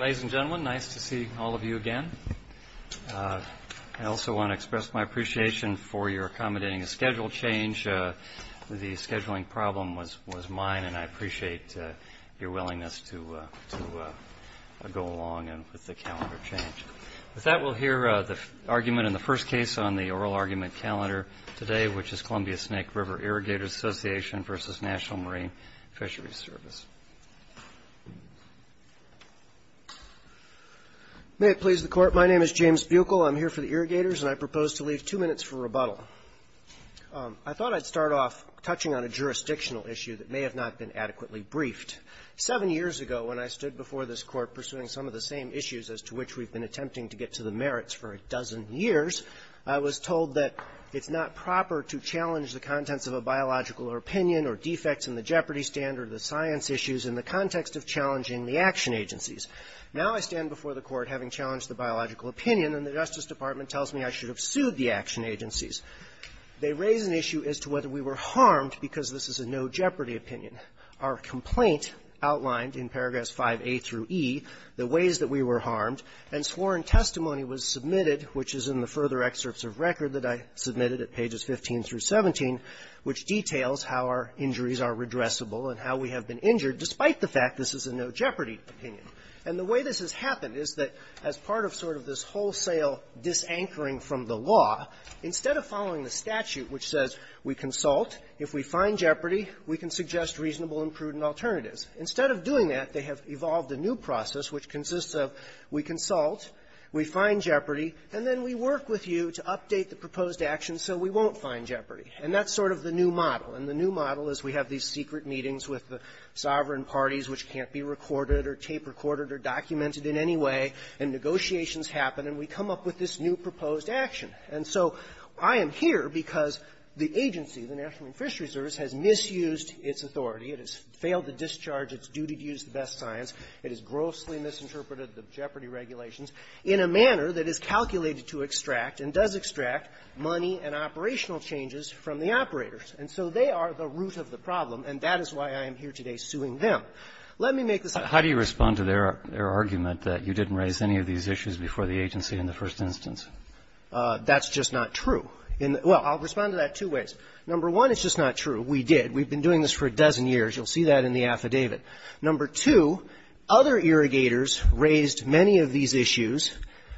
Ladies and gentlemen, nice to see all of you again. I also want to express my appreciation for your accommodating a schedule change. The scheduling problem was mine, and I appreciate your willingness to go along with the calendar change. With that, we'll hear the argument in the first case on the oral argument calendar today, which is Columbia Snake River Irrigators Association v. National Marine Fisheries Service. May it please the court, my name is James Buechel. I'm here for the irrigators, and I propose to leave two minutes for rebuttal. I thought I'd start off touching on a jurisdictional issue that may have not been adequately briefed. Seven years ago when I stood before this court pursuing some of the same issues as to which we've been attempting to get to the merits for a dozen years, I was told that it's not proper to challenge the contents of a biological opinion or defects in the jeopardy standard of the science issues in the context of challenging the action agencies. Now I stand before the court having challenged the biological opinion, and the Justice Department tells me I should have sued the action agencies. They raise an issue as to whether we were harmed because this is a no jeopardy opinion. Our complaint outlined in paragraphs 5A through E the ways that we were harmed, and sworn testimony was submitted, which is in the further excerpts of record that I submitted at pages 15 through 17, which details how our injuries are redressable and how we have been injured despite the fact this is a no jeopardy opinion. And the way this has happened is that as part of sort of this wholesale dis-anchoring from the law, instead of following the statute which says we consult, if we find jeopardy, we can suggest reasonable and prudent alternatives. Instead of doing that, they have evolved a new process which consists of we consult, we find jeopardy, and then we work with you to update the proposed action so we won't find jeopardy. And that's sort of the new model. And the new model is we have these secret meetings with the sovereign parties which can't be recorded or tape recorded or documented in any way, and negotiations happen, and we come up with this new proposed action. And so I am here because the agency, the National Fisheries Service, has misused its authority. It has failed to discharge its duty to use the best science. It has grossly misinterpreted the jeopardy regulations in a manner that is calculated to extract and does extract money and operational changes from the operators. And so they are the root of the problem, and that is why I am here today suing them. Let me make this... How do you respond to their argument that you didn't raise any of these issues before the agency in the first instance? That's just not true. Well, I'll respond to that two ways. Number one, it's just not true. We did. We've been doing this for a dozen years. You'll see that in the affidavit. Number two, other irrigators raised many of these issues.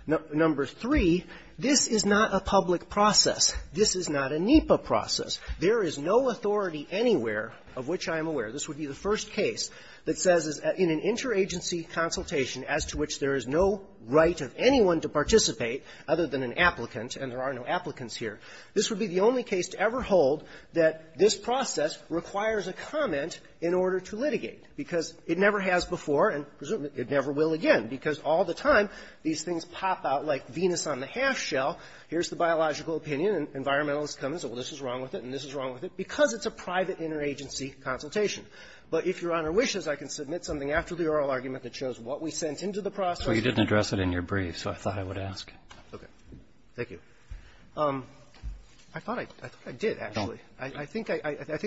Number three, this is not a public process. This is not a NEPA process. There is no authority anywhere of which I am aware. This would be the first case that says in an interagency consultation as to which there is no right of anyone to participate other than an applicant, and there are no applicants here. This would be the only case to ever hold that this process requires a comment in order to litigate, because it never has before, and presumably it never will again, because all the time these things pop out like Venus on the half shell. Here's the biological opinion, and environmentalists come and say, well, this is wrong with it, and this is wrong with it, because it's a private interagency consultation. But if Your Honor wishes, I can submit something after the oral argument that shows what we sent into the process. Well, you didn't address it in your brief, so I thought I would ask. Okay. Thank you. I thought I did, actually. I think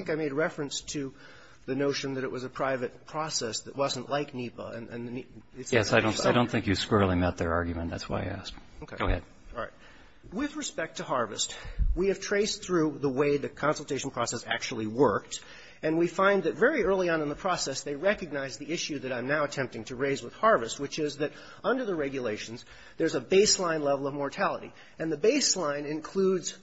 I made reference to the notion that it was a private process that wasn't like NEPA, and the NEPA... Yes, I don't think you squarely met their argument. That's why I asked. Go ahead. All right. With respect to harvest, we have traced through the way the consultation process actually worked, and we find that very early on in the process, they recognized the issue that I'm now attempting to raise with harvest, which is that under the regulations, there's a baseline level of mortality. And the baseline includes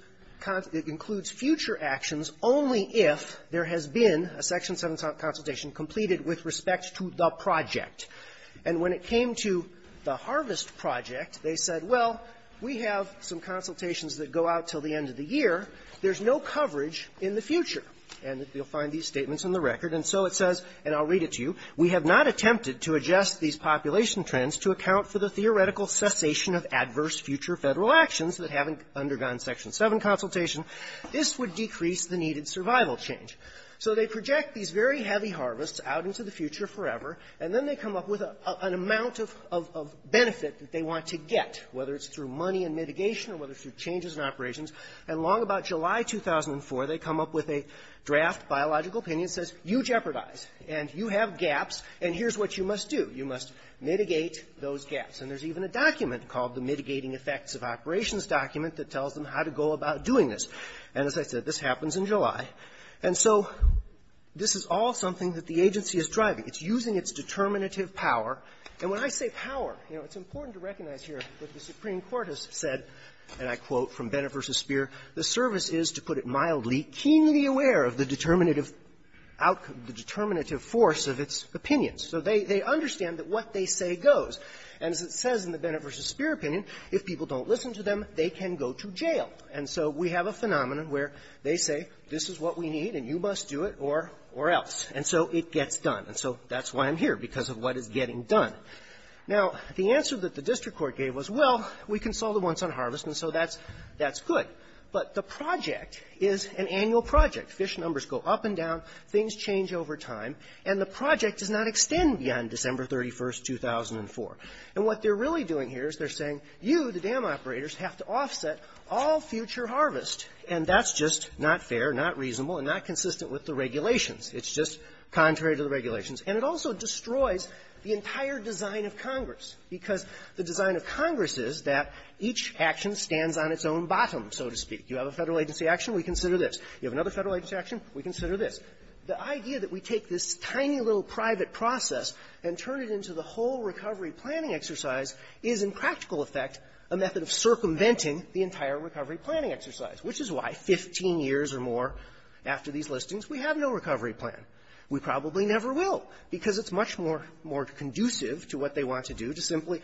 future actions only if there has been a Section 7 consultation completed with respect to the project. And when it came to the harvest project, they said, well, we have some consultations that go out until the end of the year. There's no coverage in the future. And you'll find these statements in the record. And so it says, and I'll read it to you, we have not attempted to adjust these population trends to account for the theoretical cessation of adverse future federal actions that haven't undergone Section 7 consultation. This would decrease the needed survival change. So they project these very heavy harvests out into the future forever, and then they come up with an amount of benefit that they want to get, whether it's through money and mitigation or whether it's through changes in operations. And long about July 2004, they come up with a draft biological opinion that says, you jeopardize, and you have gaps, and here's what you must do. You must mitigate those gaps. And there's even a document called the Mitigating Effects of Operations document that tells them how to go about doing this. And as I said, this happens in July. And so this is all something that the agency is driving. It's using its determinative power. And when I say power, you know, it's important to recognize here that the Supreme Court has said, and I quote from Bennett v. Speer, the service is, to put it mildly, keenly aware of the determinative force of its opinions. So they understand that what they say goes. And as it says in the Bennett v. Speer opinion, if people don't listen to them, they can go to jail. And so we have a phenomenon where they say, this is what we need, and you must do it or else. And so it gets done. And so that's why I'm here, because of what is getting done. Now, the answer that the district court gave was, well, we can solve the once-on-harvest, and so that's good. But the project is an annual project. Fish numbers go up and down. Things change over time. And the project does not extend beyond December 31st, 2004. And what they're really doing here is they're saying, you, the dam operators, have to offset all future harvest. And that's just not fair, not reasonable, and not consistent with the regulations. It's just contrary to the regulations. And it also destroys the entire design of the dam. And it stands on its own bottom, so to speak. You have a federal agency action, we consider this. You have another federal agency action, we consider this. The idea that we take this tiny little private process and turn it into the whole recovery planning exercise is, in practical effect, a method of circumventing the entire recovery planning exercise, which is why 15 years or more after these listings, we have no recovery plan. We probably never will, because it's much more conducive to what they want to do, to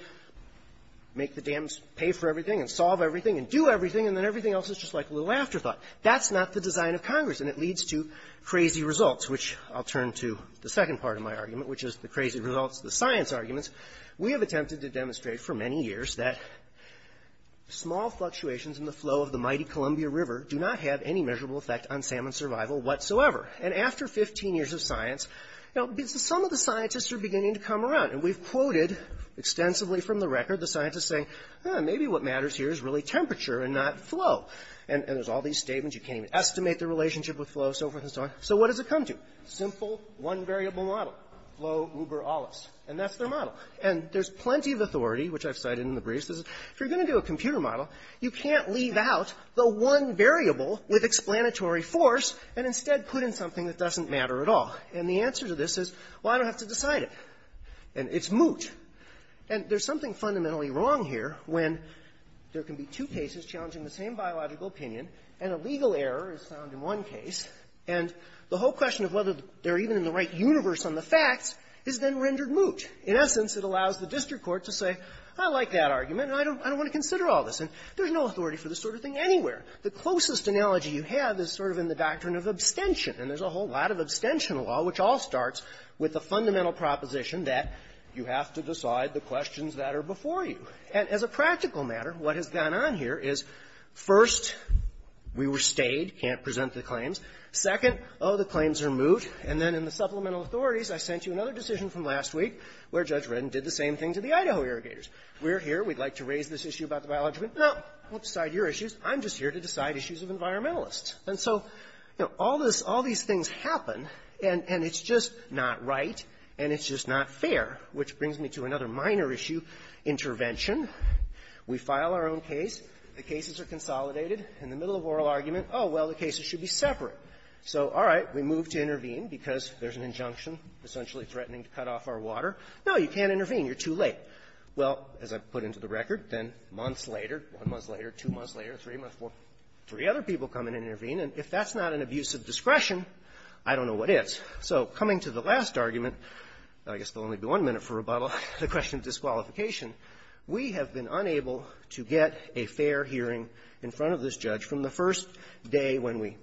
make the dams pay for everything, and solve everything, and do everything, and then everything else is just like a little afterthought. That's not the design of Congress. And it leads to crazy results, which I'll turn to the second part of my argument, which is the crazy results of the science arguments. We have attempted to demonstrate for many years that small fluctuations in the flow of the mighty Columbia River do not have any measurable effect on salmon survival whatsoever. And after 15 years of science, some of the scientists are beginning to come out. And we've quoted extensively from the record the scientists saying, maybe what matters here is really temperature and not flow. And there's all these statements, you can't even estimate the relationship with flow, so forth and so on. So what does it come to? Simple one variable model, flow uber allis. And that's their model. And there's plenty of authority, which I've cited in the briefs, is if you're going to do a computer model, you can't leave out the one variable with explanatory force, and instead put in something that doesn't matter at all. And the answer to this is, well, I don't have to decide it. And it's moot. And there's something fundamentally wrong here when there can be two cases challenging the same biological opinion, and a legal error is found in one case, and the whole question of whether they're even in the right universe on the facts has been rendered moot. In essence, it allows the district court to say, I like that argument, and I don't want to consider all this. And there's no authority for this sort of thing anywhere. The closest analogy you have is sort of in the doctrine of abstention. And there's a whole lot of abstention law, which all starts with the fundamental proposition that you have to decide the questions that are before you. And as a practical matter, what has gone on here is, first, we were stayed, can't present the claims. Second, oh, the claims are moot. And then in the supplemental authorities, I sent you another decision from last week, where Judge Wren did the same thing to the Idaho irrigators. We're here, we'd like to raise this issue about the biology argument. No, I won't decide your issues. I'm just here to decide issues of environmentalists. And so all these things happen, and it's just not right, and it's just not fair, which brings me to another minor issue, intervention. We file our own case. The cases are consolidated. In the middle of oral argument, oh, well, the cases should be separate. So all right, we move to intervene, because there's an injunction essentially threatening to cut off our water. No, you can't intervene. You're too late. Well, as I put into the record, then months later, one month later, two months later, three months later, three other people come in and intervene, and if that's not an abuse of discretion, I don't know what is. So coming to the last argument, I guess there will only be one minute for rebuttal, the question of disqualification, we have been unable to get a fair hearing in front of this judge from the first day when we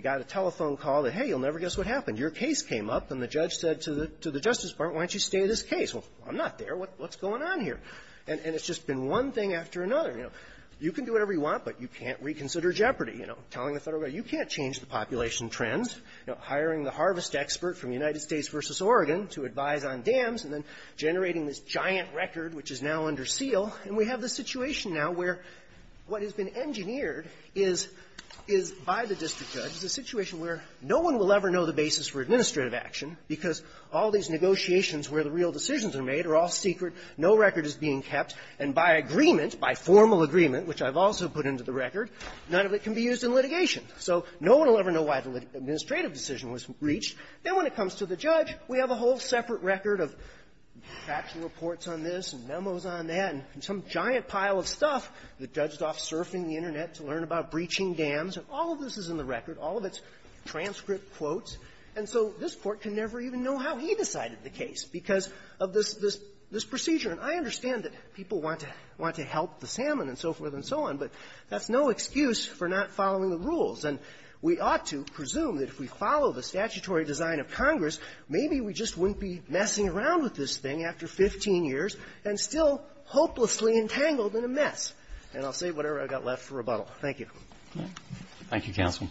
got a telephone call that, hey, you'll never guess what happened. Your case came up, and the judge said to the Justice Department, why don't you stay at this case? Well, I'm not there. What's going on here? And it's just been one thing after another. You know, you can do whatever you want, but you can't reconsider Jeopardy. You know, telling the federal government, you can't change the population trends. You know, hiring the harvest expert from the United States v. Oregon to advise on dams and then generating this giant record which is now under seal, and we have this situation now where what has been engineered is by the district judge is a situation where no one will ever know the basis for administrative action, because all these negotiations where the real decisions are made are all secret, no record is being kept, and by agreement, by formal agreement, which I've also put into the record, none of it can be used in litigation. So no one will ever know why the administrative decision was breached. Then when it comes to the judge, we have a whole separate record of facts and reports on this and memos on that and some giant pile of stuff that judge is off surfing the Internet to learn about breaching dams, and all of this is in the record, all of its transcript quotes, and so this Court can never even know how he decided the case because of this procedure. And I understand that people want to help the salmon and so forth and so on, but that's no excuse for not following the rules. And we ought to presume that if we follow the statutory design of Congress, maybe we just wouldn't be messing around with this thing after 15 years and still hopelessly entangled in a mess, and I'll say whatever I've got left for rebuttal. Thank you. Thank you, Counsel.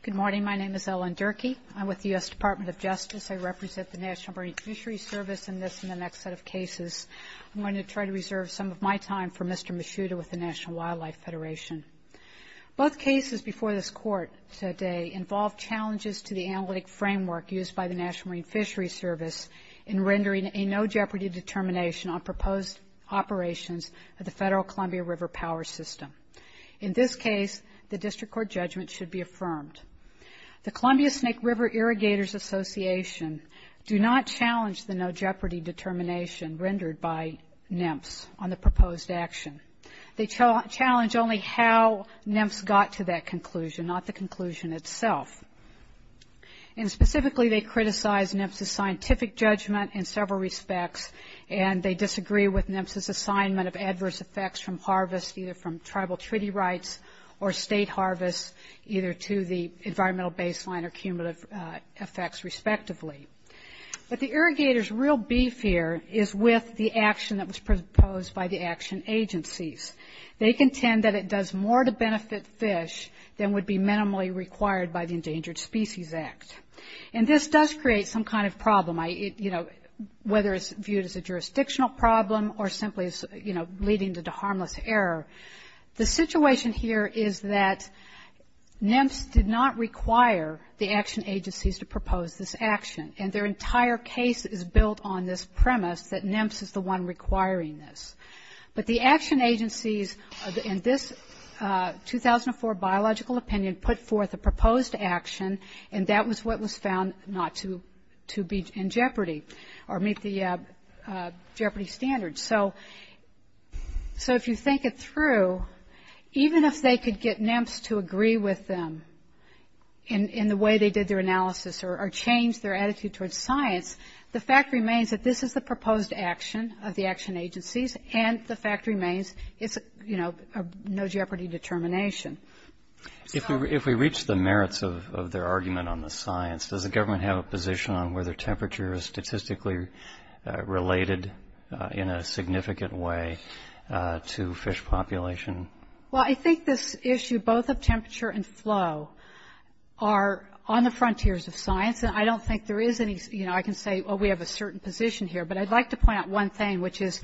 Good morning, my name is Ellen Durkee. I'm with the U.S. Department of Justice. I represent the National Marine Fisheries Service in this and the next set of cases. I'm going to try to reserve some of my time for Mr. Mishuda with the National Wildlife Federation. Both cases before this Court today involved challenges to the analytic framework used by the National Marine Fisheries Service in rendering a no jeopardy determination on proposed operations of the Federal Columbia River Power System. In this case, the District Court judgment should be affirmed. The Columbia Snake River Irrigators Association do not challenge the no jeopardy determination rendered by NEMS on the proposed action. They challenge only how NEMS got to that conclusion, not the conclusion itself. And specifically, they criticize NEMS's scientific judgment in several respects, and they disagree with NEMS's assignment of adverse effects from harvest, either from tribal treaty rights or state harvest, either to the environmental baseline or cumulative effects, respectively. But the irrigators' real beef here is with the action that was proposed by the action agencies. They contend that it does more to benefit fish than would be minimally required by the Endangered Species Act. And this does create some kind of problem, you know, whether it's viewed as a jurisdictional problem or simply, you know, leading to harmless error. The situation here is that NEMS did not require the action agencies to propose this action, and their entire case is built on this premise that NEMS is the one requiring this. But the action agencies in this 2004 biological opinion put forth a proposed action, and that was what was found not to be in jeopardy or meet the jeopardy standards. So if you think it through, even if they could get NEMS to agree with them in the way they did their analysis or change their attitude towards science, the fact remains that this is a proposed action of the action agencies, and the fact remains it's a, you know, no jeopardy determination. If we reach the merits of their argument on the science, does the government have a position on whether temperature is statistically related in a significant way to fish population? Well, I think this issue both of temperature and flow are on the frontiers of science, and I don't think there is any, you know, I can say, oh, we have a certain position here, but I'd like to point out one thing, which is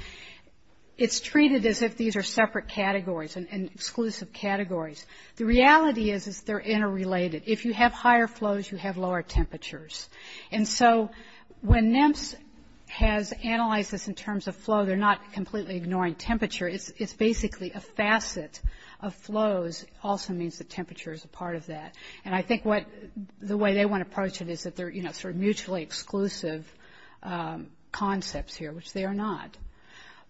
it's treated as if these are separate categories and exclusive categories. The reality is they're interrelated. If you have higher flows, you have lower temperatures. And so when NEMS has analyzed this in terms of flow, they're not completely ignoring temperature. It's basically a facet of flows also means that temperature is a part of that. And I think what the way they want to approach it is that they're, you know, sort of mutually exclusive concepts here, which they are not.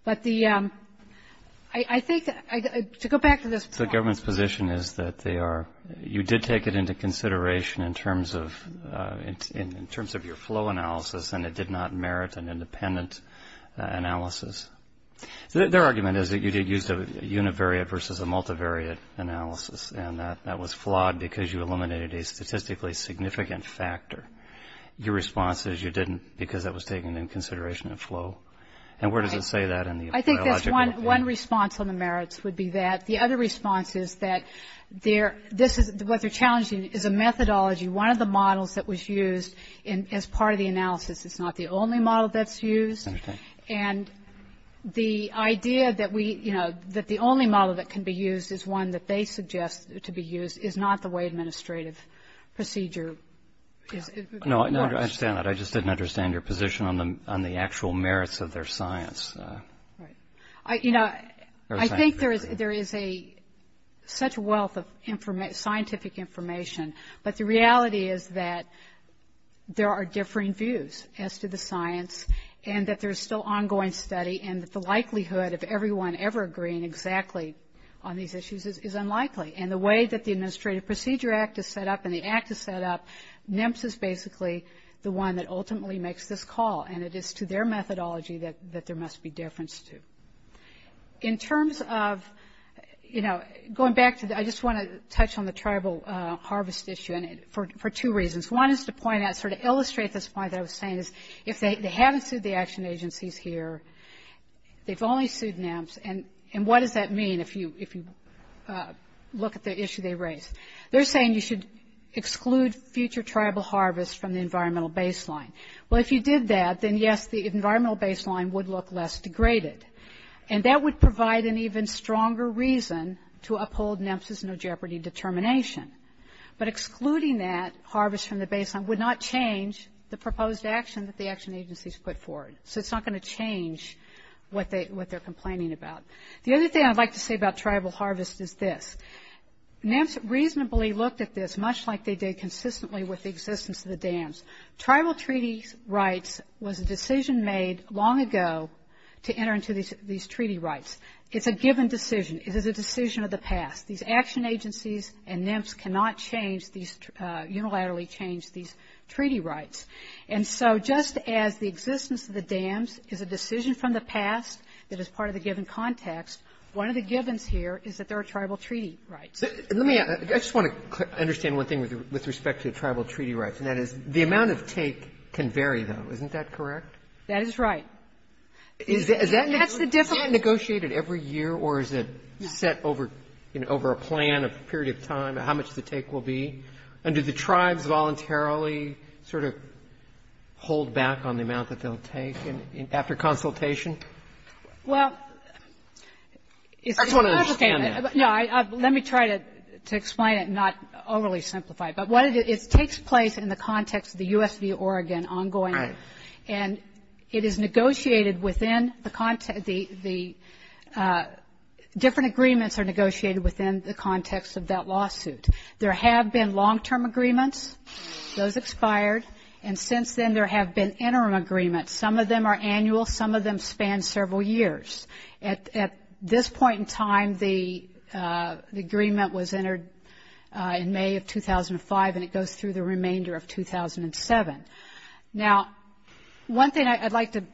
But the, I think, to go back to this point. The government's position is that they are, you did take it into consideration in terms of, in terms of your flow analysis, and it did not merit an independent analysis. Their argument is that you did use a univariate versus a multivariate analysis, and that that was flawed because you eliminated a statistically significant factor. Your response is you didn't because that was taken in consideration of flow. And where does it say that in the biological? I think that's one response on the merits would be that. The other response is that they're, this is what they're challenging is the methodology. One of the models that was used as part of the analysis is not the only model that's used. I understand. And the idea that we, you know, that the only model that can be used is one that they suggest to be used is not the way administrative procedure is. No, I understand that. I just didn't understand your position on the actual merits of their science. Right. You know, I think there is a, such a wealth of scientific information, but the reality is that there are differing views as to the science and that there's still ongoing study and that the likelihood of everyone ever agreeing exactly on these issues is unlikely. And the way that the Administrative Procedure Act is set up and the act is set up, NMPS is basically the one that ultimately makes this call, and it is to their methodology that there must be difference to. In terms of, you know, going back to, I just want to touch on the tribal harvest issue for two reasons. One is to point out, sort of illustrate this point that I was saying is if they haven't sued the action agencies here, they've only sued NMPS, and what does that mean if you look at the issue they raise? They're saying you should exclude future tribal harvest from the environmental baseline. Well, if you did that, then yes, the environmental baseline would look less degraded, and that would provide an even stronger reason to uphold NMPS's no jeopardy determination. But excluding that harvest from the baseline would not change the proposed action that the action agencies put forward. So it's not going to change what they're complaining about. The other thing I'd like to say about tribal harvest is this. NMPS reasonably looked at this, much like they did consistently with the existence of the dams. Tribal treaty rights was a decision made long ago to enter into these treaty rights. It's a given decision. It is a decision of the past. These action agencies and NMPS cannot unilaterally change these treaty rights. And so just as the existence of the dams is a decision from the past that is part of the given context, one of the givens here is that there are tribal treaty rights. I just want to understand one thing with respect to tribal treaty rights, and that is the amount of take can vary, though. Isn't that correct? That is right. Is that negotiated every year, or is it set over a plan, a period of time, how much the take will be? And do the tribes voluntarily sort of hold back on the amount that they'll take after consultation? Well, it's complicated. No, let me try to explain it and not overly simplify it. But it takes place in the context of the USDA Oregon ongoing, and it is negotiated within the context of the different agreements are negotiated within the context of that lawsuit. There have been long-term agreements. Those expired. And since then there have been interim agreements. Some of them are annual. Some of them span several years. At this point in time, the agreement was entered in May of 2005, and it goes through the remainder of 2007. Now, one thing I'd like to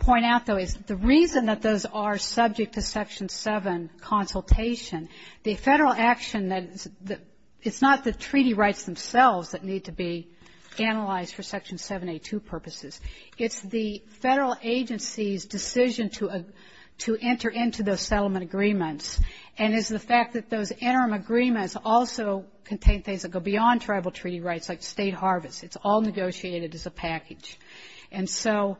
point out, though, is the reason that those are subject to Section 7 consultation, the federal action, it's not the treaty rights themselves that need to be analyzed for Section 782 purposes. It's the federal agency's decision to enter into those settlement agreements, and it's the fact that those interim agreements also contain things that go beyond tribal treaty rights like state harvests. It's all negotiated as a package. And so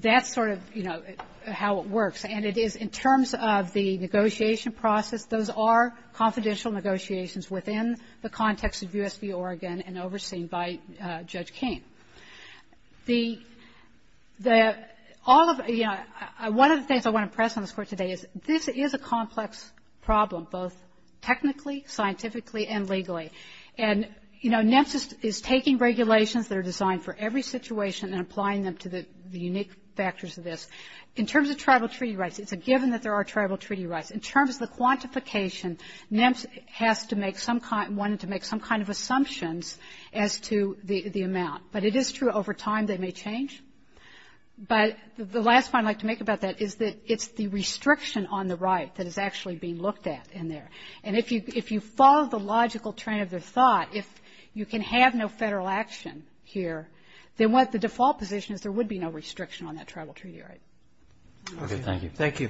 that's sort of, you know, how it works. And it is in terms of the negotiation process, those are confidential negotiations within the context of U.S. v. Oregon and overseen by Judge King. One of the things I want to press on this court today is this is a complex problem, both technically, scientifically, and legally. And, you know, NEMSIS is taking regulations that are designed for every situation and applying them to the unique factors of this. In terms of tribal treaty rights, it's a given that there are tribal treaty rights. In terms of the quantification, NEMSIS wanted to make some kind of assumptions as to the amount. But it is true over time they may change. But the last point I'd like to make about that is that it's the restriction on the right that is actually being looked at in there. And if you follow the logical train of thought, if you can have no federal action here, then what the default position is there would be no restriction on that tribal treaty right. Okay, thank you. Thank you.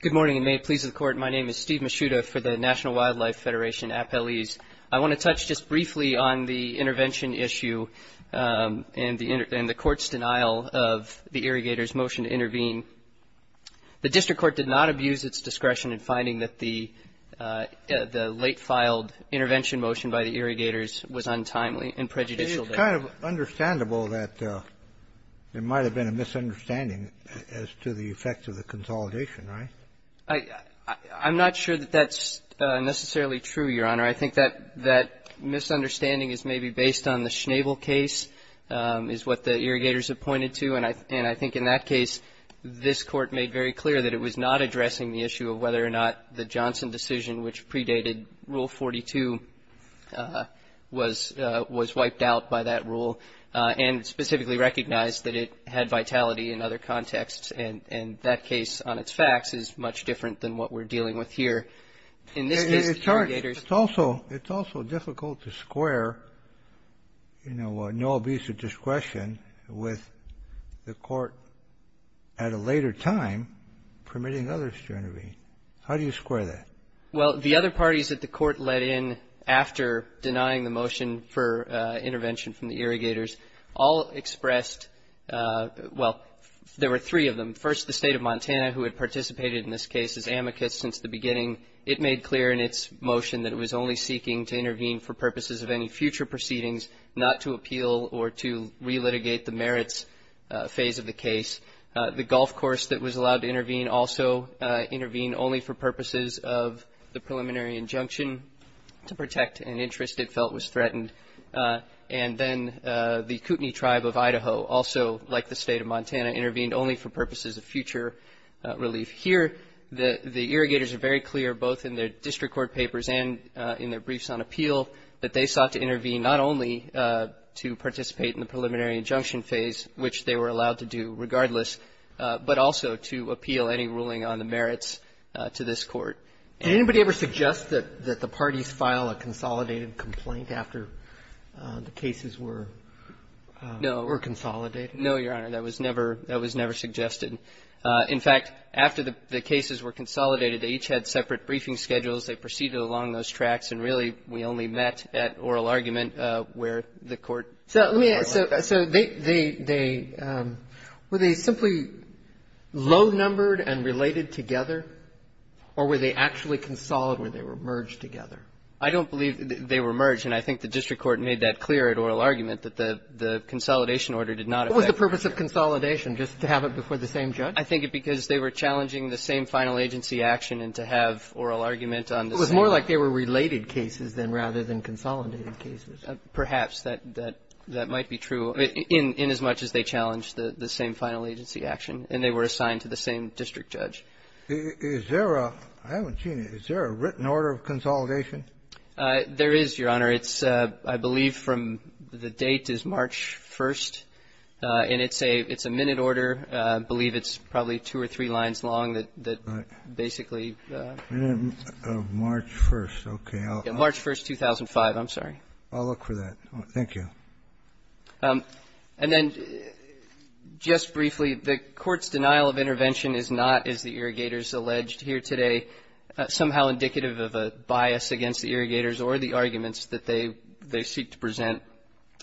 Good morning and may it please the Court. My name is Steve Masciuto for the National Wildlife Federation, Appellees. I want to touch just briefly on the intervention issue and the court's denial of the irrigator's motion to intervene. The district court did not abuse its discretion in finding that the late filed intervention motion by the irrigators was untimely and prejudicial. It's kind of understandable that there might have been a misunderstanding as to the effects of the consolidation, right? I'm not sure that that's necessarily true, Your Honor. I think that misunderstanding is maybe based on the Schnabel case is what the irrigators have pointed to. And I think in that case this court made very clear that it was not addressing the issue of whether or not the Johnson decision which predated Rule 42 was wiped out by that rule and specifically recognized, but it had vitality in other contexts and that case on its facts is much different than what we're dealing with here. It's also difficult to square, you know, no abuse of discretion with the court at a later time permitting others to intervene. How do you square that? Well, the other parties that the court let in after denying the motion for intervention from the irrigators all expressed, well, there were three of them. First, the State of Montana who had participated in this case as amicus since the beginning. It made clear in its motion that it was only seeking to intervene for purposes of any future proceedings, not to appeal or to re-litigate the merits phase of the case. The golf course that was allowed to intervene also intervened only for purposes of the preliminary injunction to protect an interest it felt was threatened. And then the Kootenai tribe of Idaho also, like the State of Montana, intervened only for purposes of future relief. Here, the irrigators are very clear both in their district court papers and in their briefs on appeal that they sought to intervene not only to participate in the preliminary injunction phase, which they were allowed to do regardless, but also to appeal any ruling on the merits to this court. Did anybody ever suggest that the parties file a consolidated complaint after the cases were consolidated? No, Your Honor. That was never suggested. In fact, after the cases were consolidated, they each had separate briefing schedules. They proceeded along those tracks, and really, we only met at oral argument where the court. So were they simply low-numbered and related together, or were they actually consolidated where they were merged together? I don't believe they were merged, and I think the district court made that clear at oral argument that the consolidation order did not affect. What was the purpose of consolidation, just to have it before the same judge? I think it was because they were challenging the same final agency action and to have oral argument on this. It was more like they were related cases, then, rather than consolidated cases. Perhaps that might be true, in as much as they challenged the same final agency action, and they were assigned to the same district judge. Is there a written order of consolidation? There is, Your Honor. I believe from the date is March 1st, and it's a minute order. I believe it's probably two or three lines long that basically. March 1st, okay. March 1st, 2005. I'm sorry. I'll look for that. Thank you. And then just briefly, the court's denial of intervention is not, as the irrigators alleged here today, somehow indicative of a bias against the irrigators or the arguments that they seek to present.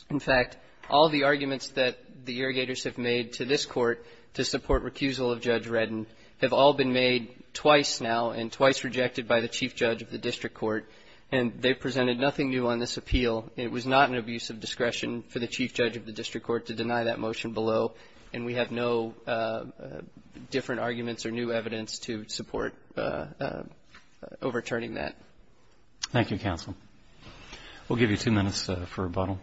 In fact, all the arguments that the irrigators have made to this court to support recusal of Judge Reddin have all been made twice now and twice rejected by the chief judge of the district court, and they presented nothing new on this appeal. It was not an abuse of discretion for the chief judge of the district court to deny that motion below, and we have no different arguments or new evidence to support overturning that. Thank you, counsel. We'll give you two minutes for rebuttal.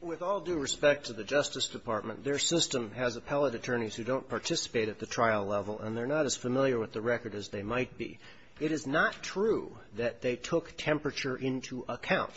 With all due respect to the Justice Department, their system has appellate attorneys who don't participate at the trial level, and they're not as familiar with the record as they might be. It is not true that they took temperature into account.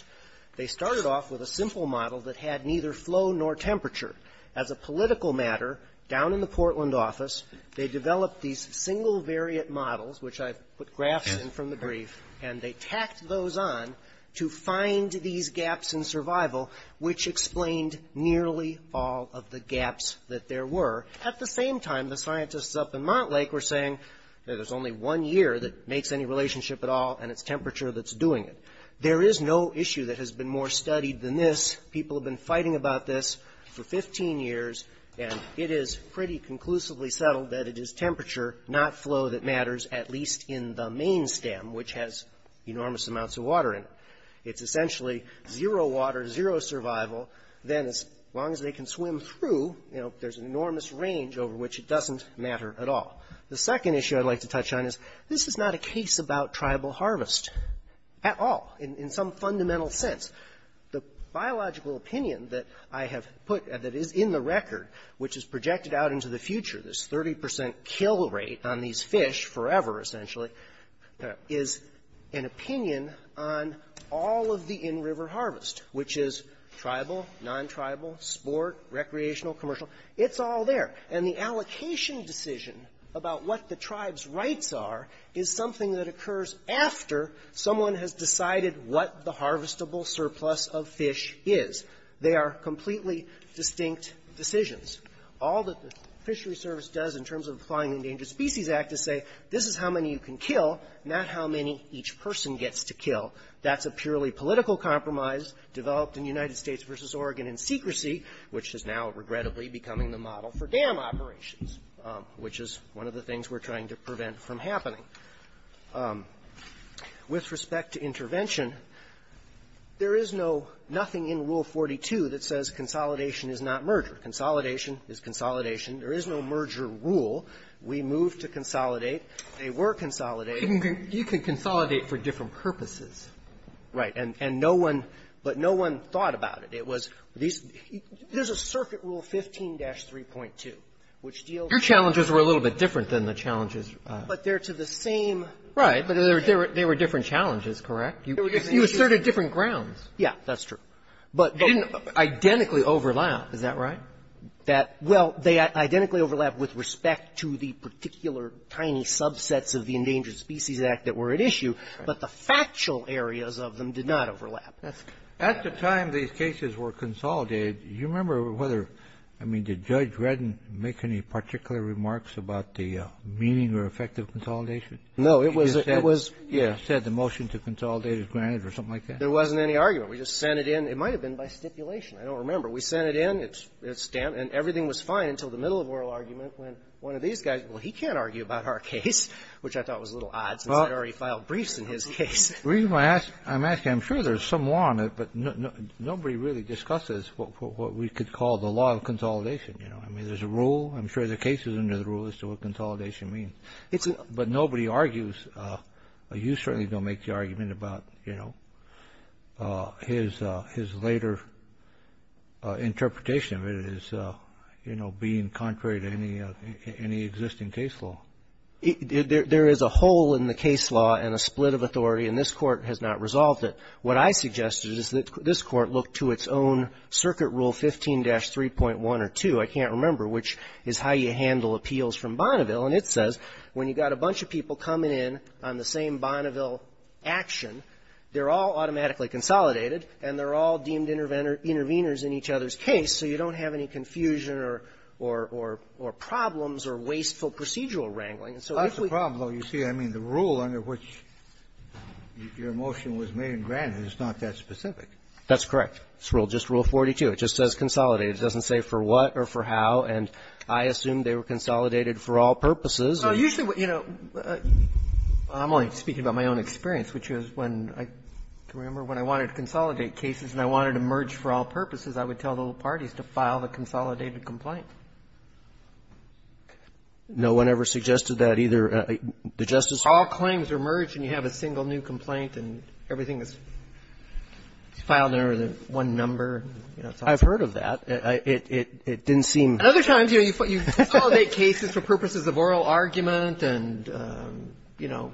They started off with a simple model that had neither flow nor temperature. As a political matter, down in the Portland office, they developed these single variant models, which I put graphs in from the brief, and they tacked those on to find these gaps in survival, which explained nearly all of the gaps that there were. At the same time, the scientists up in Montlake were saying there's only one year that makes any relationship at all, and it's temperature that's doing it. There is no issue that has been more studied than this. People have been fighting about this for 15 years, and it is pretty conclusively settled that it is temperature, not flow, that matters, at least in the main stem, which has enormous amounts of water in it. It's essentially zero water, zero survival. Then as long as they can swim through, there's an enormous range over which it doesn't matter at all. The second issue I'd like to touch on is this is not a case about tribal harvest at all in some fundamental sense. The biological opinion that I have put that is in the record, which is projected out into the future, this 30% kill rate on these fish forever, essentially, is an opinion on all of the in-river harvest, which is tribal, non-tribal, sport, recreational, commercial. It's all there, and the allocation decision about what the tribe's rights are is something that occurs after someone has decided what the harvestable surplus of fish is. They are completely distinct decisions. All that the Fishery Service does in terms of the Flying Endangered Species Act is say, this is how many you can kill, not how many each person gets to kill. That's a purely political compromise developed in the United States versus Oregon in secrecy, which is now regrettably becoming the model for dam operations, which is one of the things we're trying to prevent from happening. With respect to intervention, there is nothing in Rule 42 that says consolidation is not murder. Consolidation is consolidation. There is no merger rule. We moved to consolidate. They were consolidated. You can consolidate for different purposes. Right, but no one thought about it. There's a Circuit Rule 15-3.2, which deals with… Your challenges were a little bit different than the challenges… But they're to the same… Right, but they were different challenges, correct? You asserted different grounds. Yeah, that's true. But they didn't identically overlap. Isn't that right? Well, they identically overlapped with respect to the particular tiny subsets of the Endangered Species Act that were at issue, but the factual areas of them did not overlap. At the time these cases were consolidated, do you remember whether, I mean, did Judge Redden make any particular remarks about the meaning or effect of consolidation? No, it was… He said the motion to consolidate is granted or something like that? There wasn't any argument. We just sent it in. It might have been by stipulation. I don't remember. We sent it in. It's stamped, and everything was fine until the middle of oral argument when one of these guys, well, he can't argue about our case, which I thought was a little odd. He had already filed briefs in his case. The reason I'm asking, I'm sure there's some law on it, but nobody really discusses what we could call the law of consolidation. I mean, there's a rule. I'm sure there are cases under the rule as to what consolidation means. But nobody argues. You certainly don't make the argument about his later interpretation of it as being contrary to any existing case law. There is a hole in the case law and a split of authority, and this Court has not resolved it. What I suggest is that this Court look to its own Circuit Rule 15-3.1 or 2, I can't remember, which is how you handle appeals from Bonneville. And it says when you've got a bunch of people coming in on the same Bonneville action, they're all automatically consolidated, and they're all deemed intervenors in each other's case, so you don't have any confusion or problems or wasteful procedural wrangling. That's the problem, though, you see. I mean, the rule under which your motion was made in Granite is not that specific. That's correct. It's just Rule 42. It just says consolidate. It doesn't say for what or for how, and I assume they were consolidated for all purposes. Usually, you know, I'm only speaking about my own experience, which is when I remember when I wanted to consolidate cases and I wanted to merge for all purposes, I would tell little parties to file a consolidated complaint. No one ever suggested that either? All claims are merged and you have a single new complaint and everything is filed under one number? I've heard of that. It didn't seem... Other times you consolidate cases for purposes of oral argument and, you know,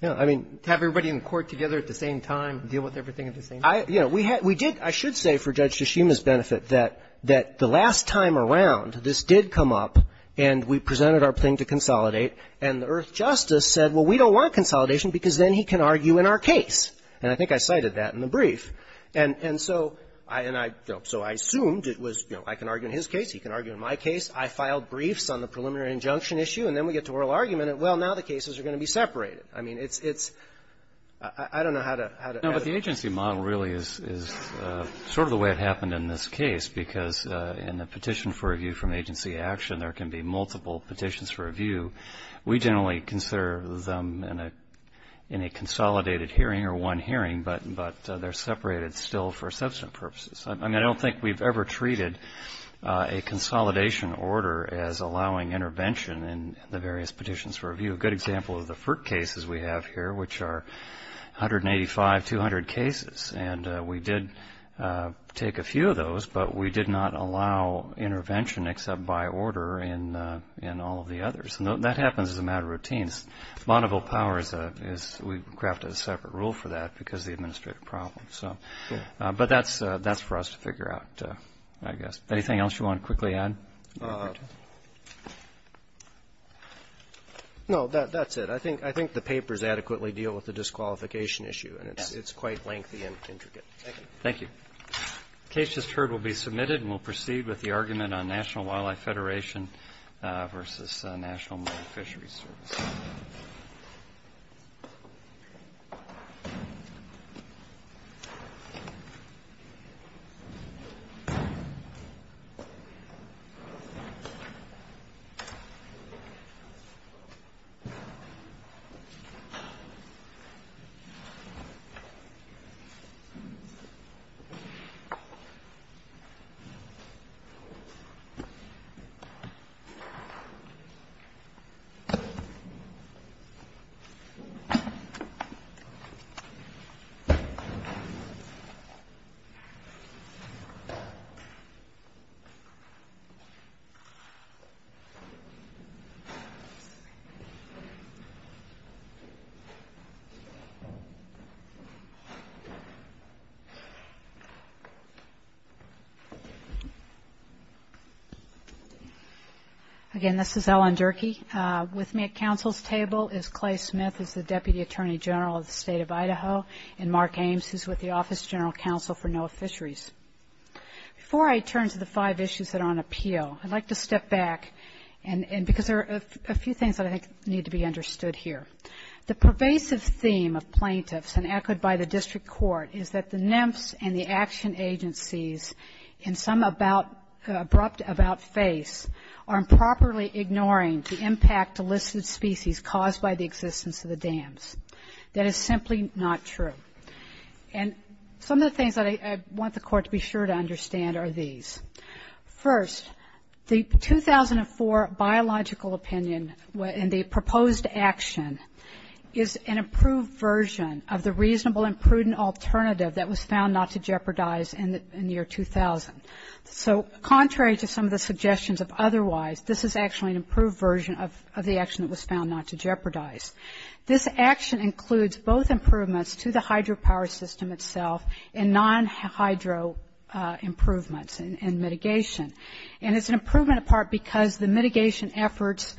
have everybody in court together at the same time and deal with everything at the same time. We did, I should say for Judge Tshishima's benefit, that the last time around this did come up and we presented our claim to consolidate and the Earth Justice said, well, we don't want consolidation and I think I cited that in the brief. And so I assumed it was, you know, I can argue in his case, he can argue in my case, I filed briefs on the preliminary injunction issue and then we get to oral argument and, well, now the cases are going to be separated. I mean, it's... I don't know how to... No, but the agency model really is sort of the way it happened in this case because in a petition for review from agency action, there can be multiple petitions for review. We generally consider them in a consolidated hearing or one hearing, but they're separated still for assessment purposes. I mean, I don't think we've ever treated a consolidation order as allowing intervention in the various petitions for review. A good example of the FERT cases we have here, which are 185, 200 cases, and we did take a few of those, but we did not allow intervention except by order in all of the others. And that happens as a matter of routines. Monoble Power, we crafted a separate rule for that because of the administrative problem. But that's for us to figure out, I guess. Anything else you want to quickly add? No, that's it. I think the papers adequately deal with the disqualification issue. It's quite lengthy and intricate. Thank you. Thank you. The case just heard will be submitted and we'll proceed with the argument on National Wildlife Federation versus National Marine Fisheries Service. Thank you. Again, this is Ellen Durkee. With me at council's table is Clay Smith, who's the Deputy Attorney General of the State of Idaho, and Mark Ames, who's with the Office of General Counsel for NOAA Fisheries. Before I turn to the five issues that are on appeal, I'd like to step back because there are a few things that I think need to be understood here. The pervasive theme of plaintiffs, and echoed by the district court, is that the NEMS and the action agencies, and some abrupt about faith, are improperly ignoring the impact to listed species caused by the existence of the dams. That is simply not true. And some of the things that I want the court to be sure to understand are these. First, the 2004 biological opinion and the proposed action is an improved version of the reasonable and prudent alternative that was found not to jeopardize in the year 2000. So contrary to some of the suggestions of otherwise, this is actually an improved version of the action that was found not to jeopardize. This action includes both improvements to the hydropower system itself and non-hydro improvements and mitigation. And it's an improvement in part because the mitigation efforts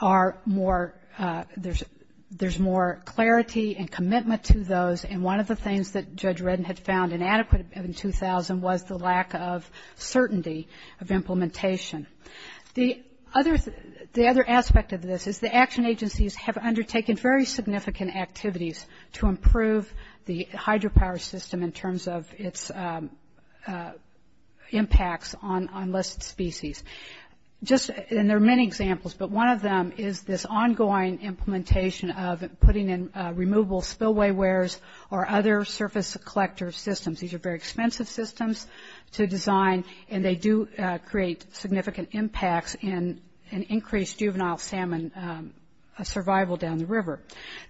are more, there's more clarity and commitment to those, and one of the things that Judge Redden had found inadequate in 2000 was the lack of certainty of implementation. The other aspect of this is the action agencies have undertaken very significant activities to improve the hydropower system in terms of its impacts on listed species. Just, and there are many examples, but one of them is this ongoing implementation of putting in removable spillway wares or other surface collector systems. These are very expensive systems to design, and they do create significant impacts in increased juvenile salmon survival down the river.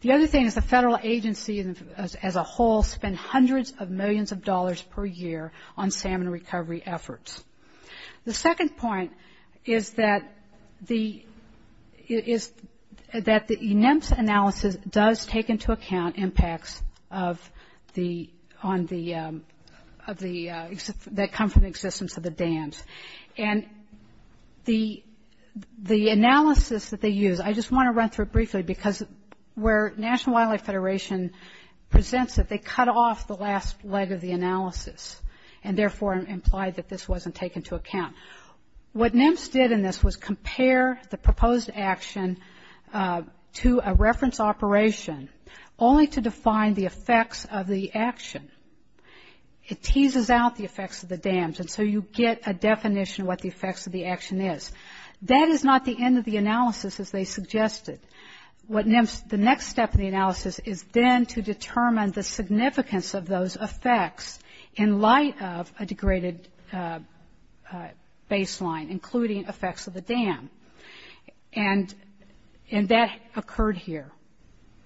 The other thing is the federal agency as a whole spent hundreds of millions of dollars per year on salmon recovery efforts. The second point is that the ENEMS analysis does take into account impacts of the, that come from the existence of the dams. And the analysis that they use, I just want to run through it briefly, because where National Wildlife Federation presents it, and therefore implied that this wasn't taken into account. What NEMS did in this was compare the proposed action to a reference operation only to define the effects of the action. It teases out the effects of the dams, and so you get a definition of what the effects of the action is. That is not the end of the analysis as they suggested. What NEMS, the next step in the analysis is then to determine the significance of those effects in light of a degraded baseline, including effects of the dam. And that occurred here,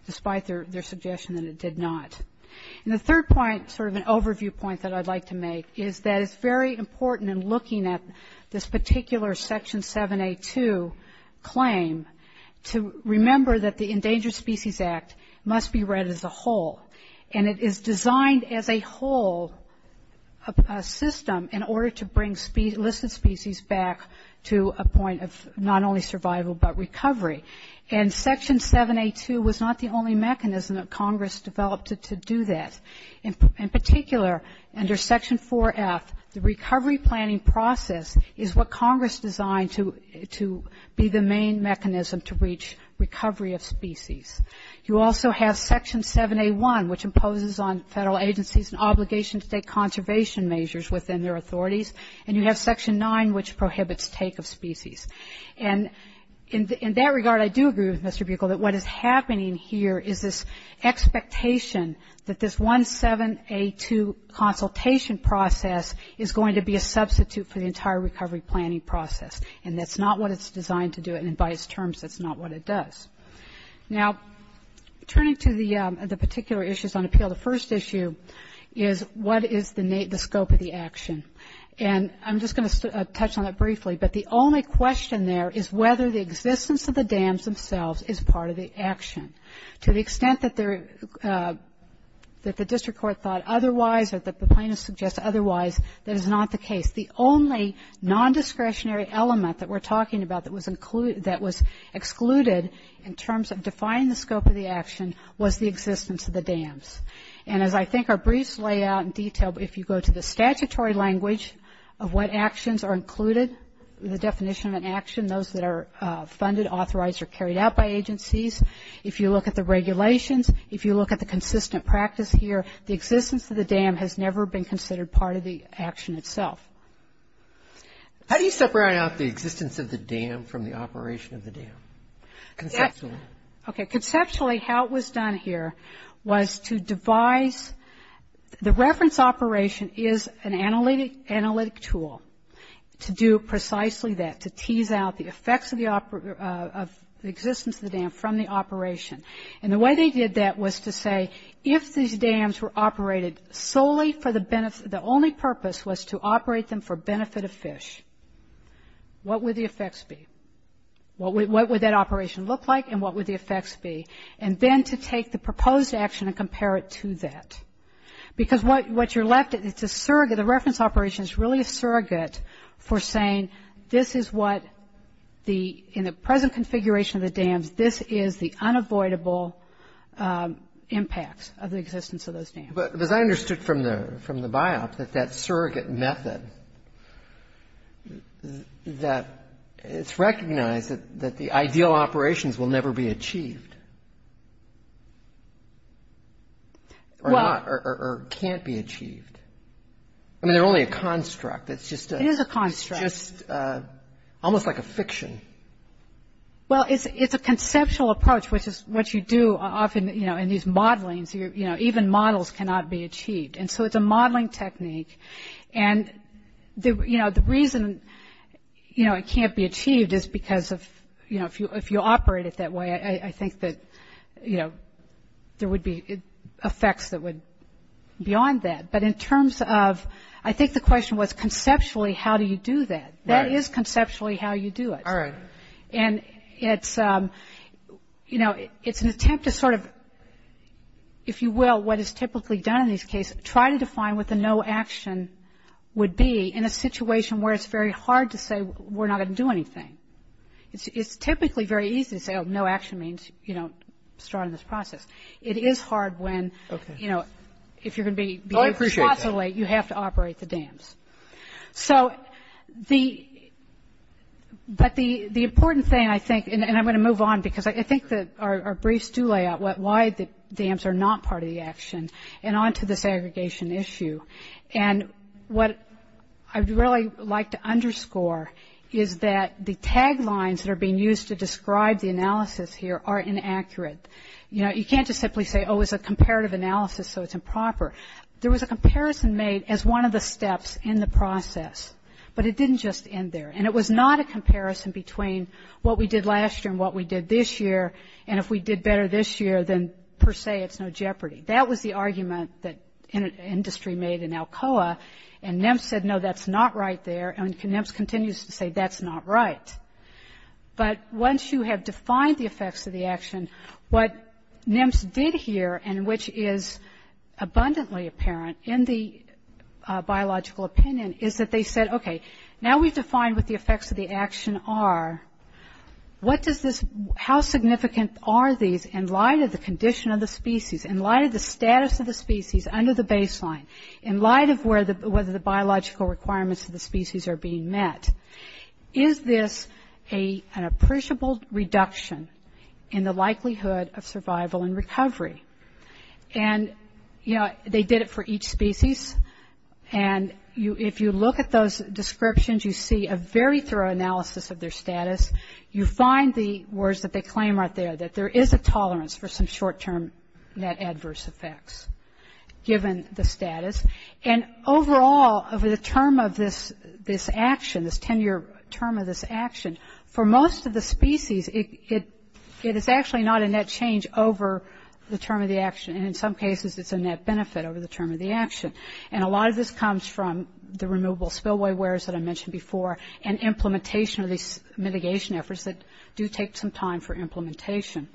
despite their suggestion that it did not. And the third point, sort of an overview point that I'd like to make, is that it's very important in looking at this particular Section 7A2 claim to remember that the Endangered Species Act must be read as a whole. And it is designed as a whole system in order to bring listed species back to a point of not only survival but recovery. And Section 7A2 was not the only mechanism that Congress developed to do that. In particular, under Section 4F, the recovery planning process is what Congress designed to be the main mechanism to reach recovery of species. You also have Section 7A1, which imposes on federal agencies an obligation to take conservation measures within their authorities. And you have Section 9, which prohibits take of species. And in that regard, I do agree with Mr. Buechel that what is happening here is this expectation that this 17A2 consultation process is going to be a substitute for the entire recovery planning process. And that's not what it's designed to do, and in biased terms, that's not what it does. Now, turning to the particular issues on appeal, the first issue is what is the scope of the action? And I'm just going to touch on that briefly. But the only question there is whether the existence of the dams themselves is part of the action. To the extent that the district court thought otherwise or that the plaintiff suggests otherwise, that is not the case. The only non-discretionary element that we're talking about that was excluded in terms of defining the scope of the action was the existence of the dams. And as I think I'll briefly lay out in detail, if you go to the statutory language of what actions are included, the definition of an action, those that are funded, authorized, or carried out by agencies, if you look at the regulations, if you look at the consistent practice here, the existence of the dam has never been considered part of the action itself. How do you separate out the existence of the dam from the operation of the dam? Okay, conceptually, how it was done here was to devise the reference operation is an analytic tool to do precisely that, to tease out the effects of the existence of the dam from the operation. And the way they did that was to say if these dams were operated solely for the benefit, the only purpose was to operate them for benefit of fish, what would the effects be? What would that operation look like and what would the effects be? And then to take the proposed action and compare it to that. Because what you're left with is a surrogate, a reference operation is really a surrogate for saying this is what the, in the present configuration of the dams, this is the unavoidable impact of the existence of those dams. But as I understood from the bios, that that surrogate method, that it's recognized that the ideal operations will never be achieved or can't be achieved. I mean, they're only a construct. It's just a. It is a construct. Almost like a fiction. Well, it's a conceptual approach, which is what you do often, you know, in these modelings. You know, even models cannot be achieved. And so it's a modeling technique. And, you know, the reason, you know, it can't be achieved is because of, you know, if you operate it that way, I think that, you know, there would be effects that would be on that. But in terms of, I think the question was conceptually how do you do that. That is conceptually how you do it. All right. And it's, you know, it's an attempt to sort of, if you will, what is typically done in these cases, try to define what the no action would be in a situation where it's very hard to say we're not going to do anything. It's typically very easy to say, oh, no action means, you know, start on this process. It is hard when, you know, if you're going to be. Well, I appreciate that. You have to operate the dams. So, but the important thing, I think, and I'm going to move on because I think that our briefs do lay out why the dams are not part of the action and on to the segregation issue. And what I'd really like to underscore is that the tag lines that are being used to describe the analysis here are inaccurate. You know, you can't just simply say, oh, it's a comparative analysis so it's improper. There was a comparison made as one of the steps in the process, but it didn't just end there, and it was not a comparison between what we did last year and what we did this year, and if we did better this year, then per se it's no jeopardy. That was the argument that industry made in Alcoa, and NEMS said, no, that's not right there, and NEMS continues to say that's not right. But once you have defined the effects of the action, what NEMS did here, and which is abundantly apparent in the biological opinion, is that they said, okay, now we've defined what the effects of the action are, what does this, how significant are these in light of the condition of the species, in light of the status of the species under the baseline, in light of whether the biological requirements of the species are being met. Is this an appreciable reduction in the likelihood of survival and recovery? And, you know, they did it for each species, and if you look at those descriptions, you see a very thorough analysis of their status. You find the words that they claim right there, that there is a tolerance for some short-term adverse effects given the status. And overall, over the term of this action, this 10-year term of this action, for most of the species, it is actually not a net change over the term of the action, and in some cases it's a net benefit over the term of the action. And a lot of this comes from the removal of spillway wares that I mentioned before and implementation of these mitigation efforts that do take some time for implementation.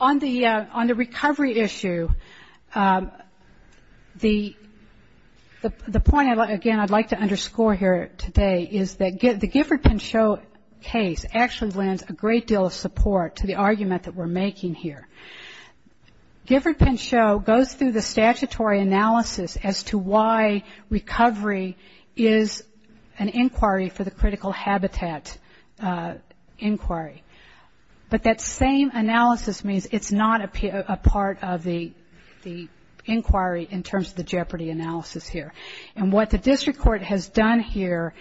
On the recovery issue, the point, again, I'd like to underscore here today is that the Gifford-Penchot case actually lent a great deal of support to the argument that we're making here. Gifford-Penchot goes through the statutory analysis as to why recovery is an inquiry for the critical habitat inquiry. But that same analysis means it's not a part of the inquiry in terms of the Jeopardy analysis here. And what the district court has done here,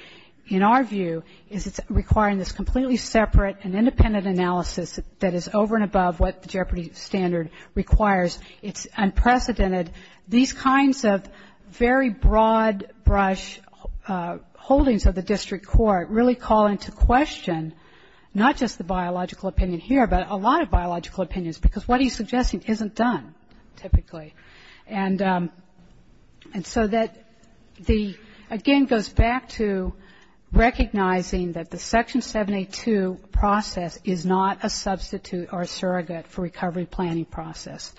in our view, is it's requiring this completely separate and independent analysis that is over and above what the Jeopardy standard requires. It's unprecedented. These kinds of very broad brush holdings of the district court really call into question, not just the biological opinion here, but a lot of biological opinions, because what he's suggesting isn't done, typically. And so that the, again, goes back to recognizing that the Section 72 process is not a substitute or a surrogate for recovery planning process.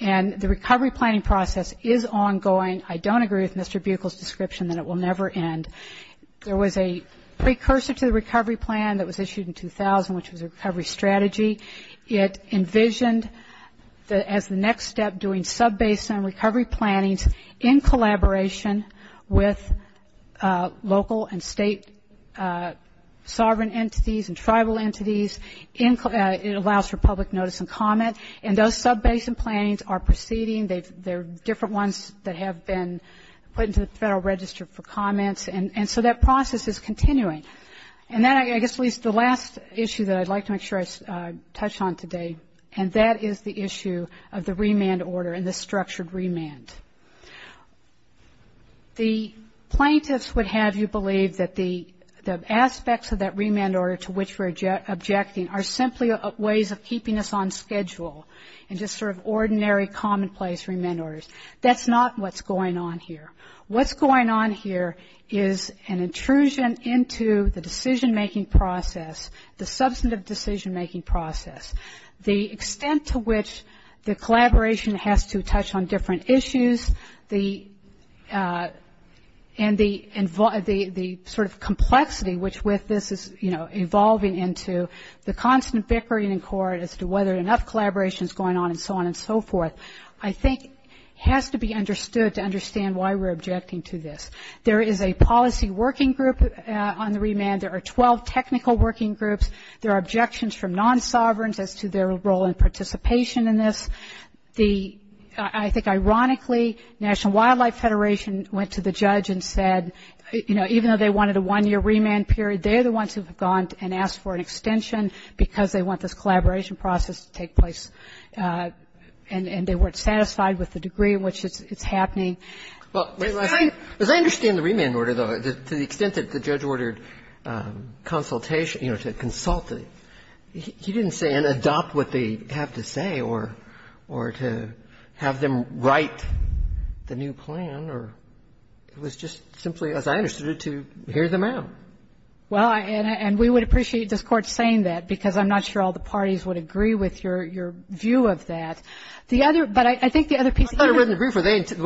And the recovery planning process is ongoing. I don't agree with Mr. Buechel's description that it will never end. There was a precursor to the recovery plan that was issued in 2000, which was a recovery strategy. It envisioned as the next step doing sub-basin recovery planning in collaboration with local and state sovereign entities and tribal entities. It allows for public notice and comment. And those sub-basin plans are proceeding. They're different ones that have been put into the Federal Register for comment. And so that process is continuing. And then I guess the last issue that I'd like to make sure I touch on today, and that is the issue of the remand order and the structured remand. The plaintiffs would have you believe that the aspects of that remand order to which we're objecting are simply ways of keeping us on schedule and just sort of ordinary commonplace remand orders. That's not what's going on here. What's going on here is an intrusion into the decision-making process, the substantive decision-making process, the extent to which the collaboration has to touch on different issues, and the sort of complexity which with this is, you know, evolving into the constant bickering in court as to whether enough collaboration is going on and so on and so forth, I think has to be understood to understand why we're objecting to this. There is a policy working group on the remand. There are 12 technical working groups. There are objections from non-sovereigns as to their role in participation in this. I think ironically, National Wildlife Federation went to the judge and said, you know, even though they wanted a one-year remand period, they are the ones who have gone and asked for an extension because they want this collaboration process to take place, and they weren't satisfied with the degree in which it's happening. As I understand the remand order, though, to the extent that the judge ordered consultation, you know, or to have them write the new plan, or it was just simply, as I understood it, to hear them out. Well, and we would appreciate this court saying that because I'm not sure all the parties would agree with your view of that. The other, but I think the other piece. I wouldn't agree, but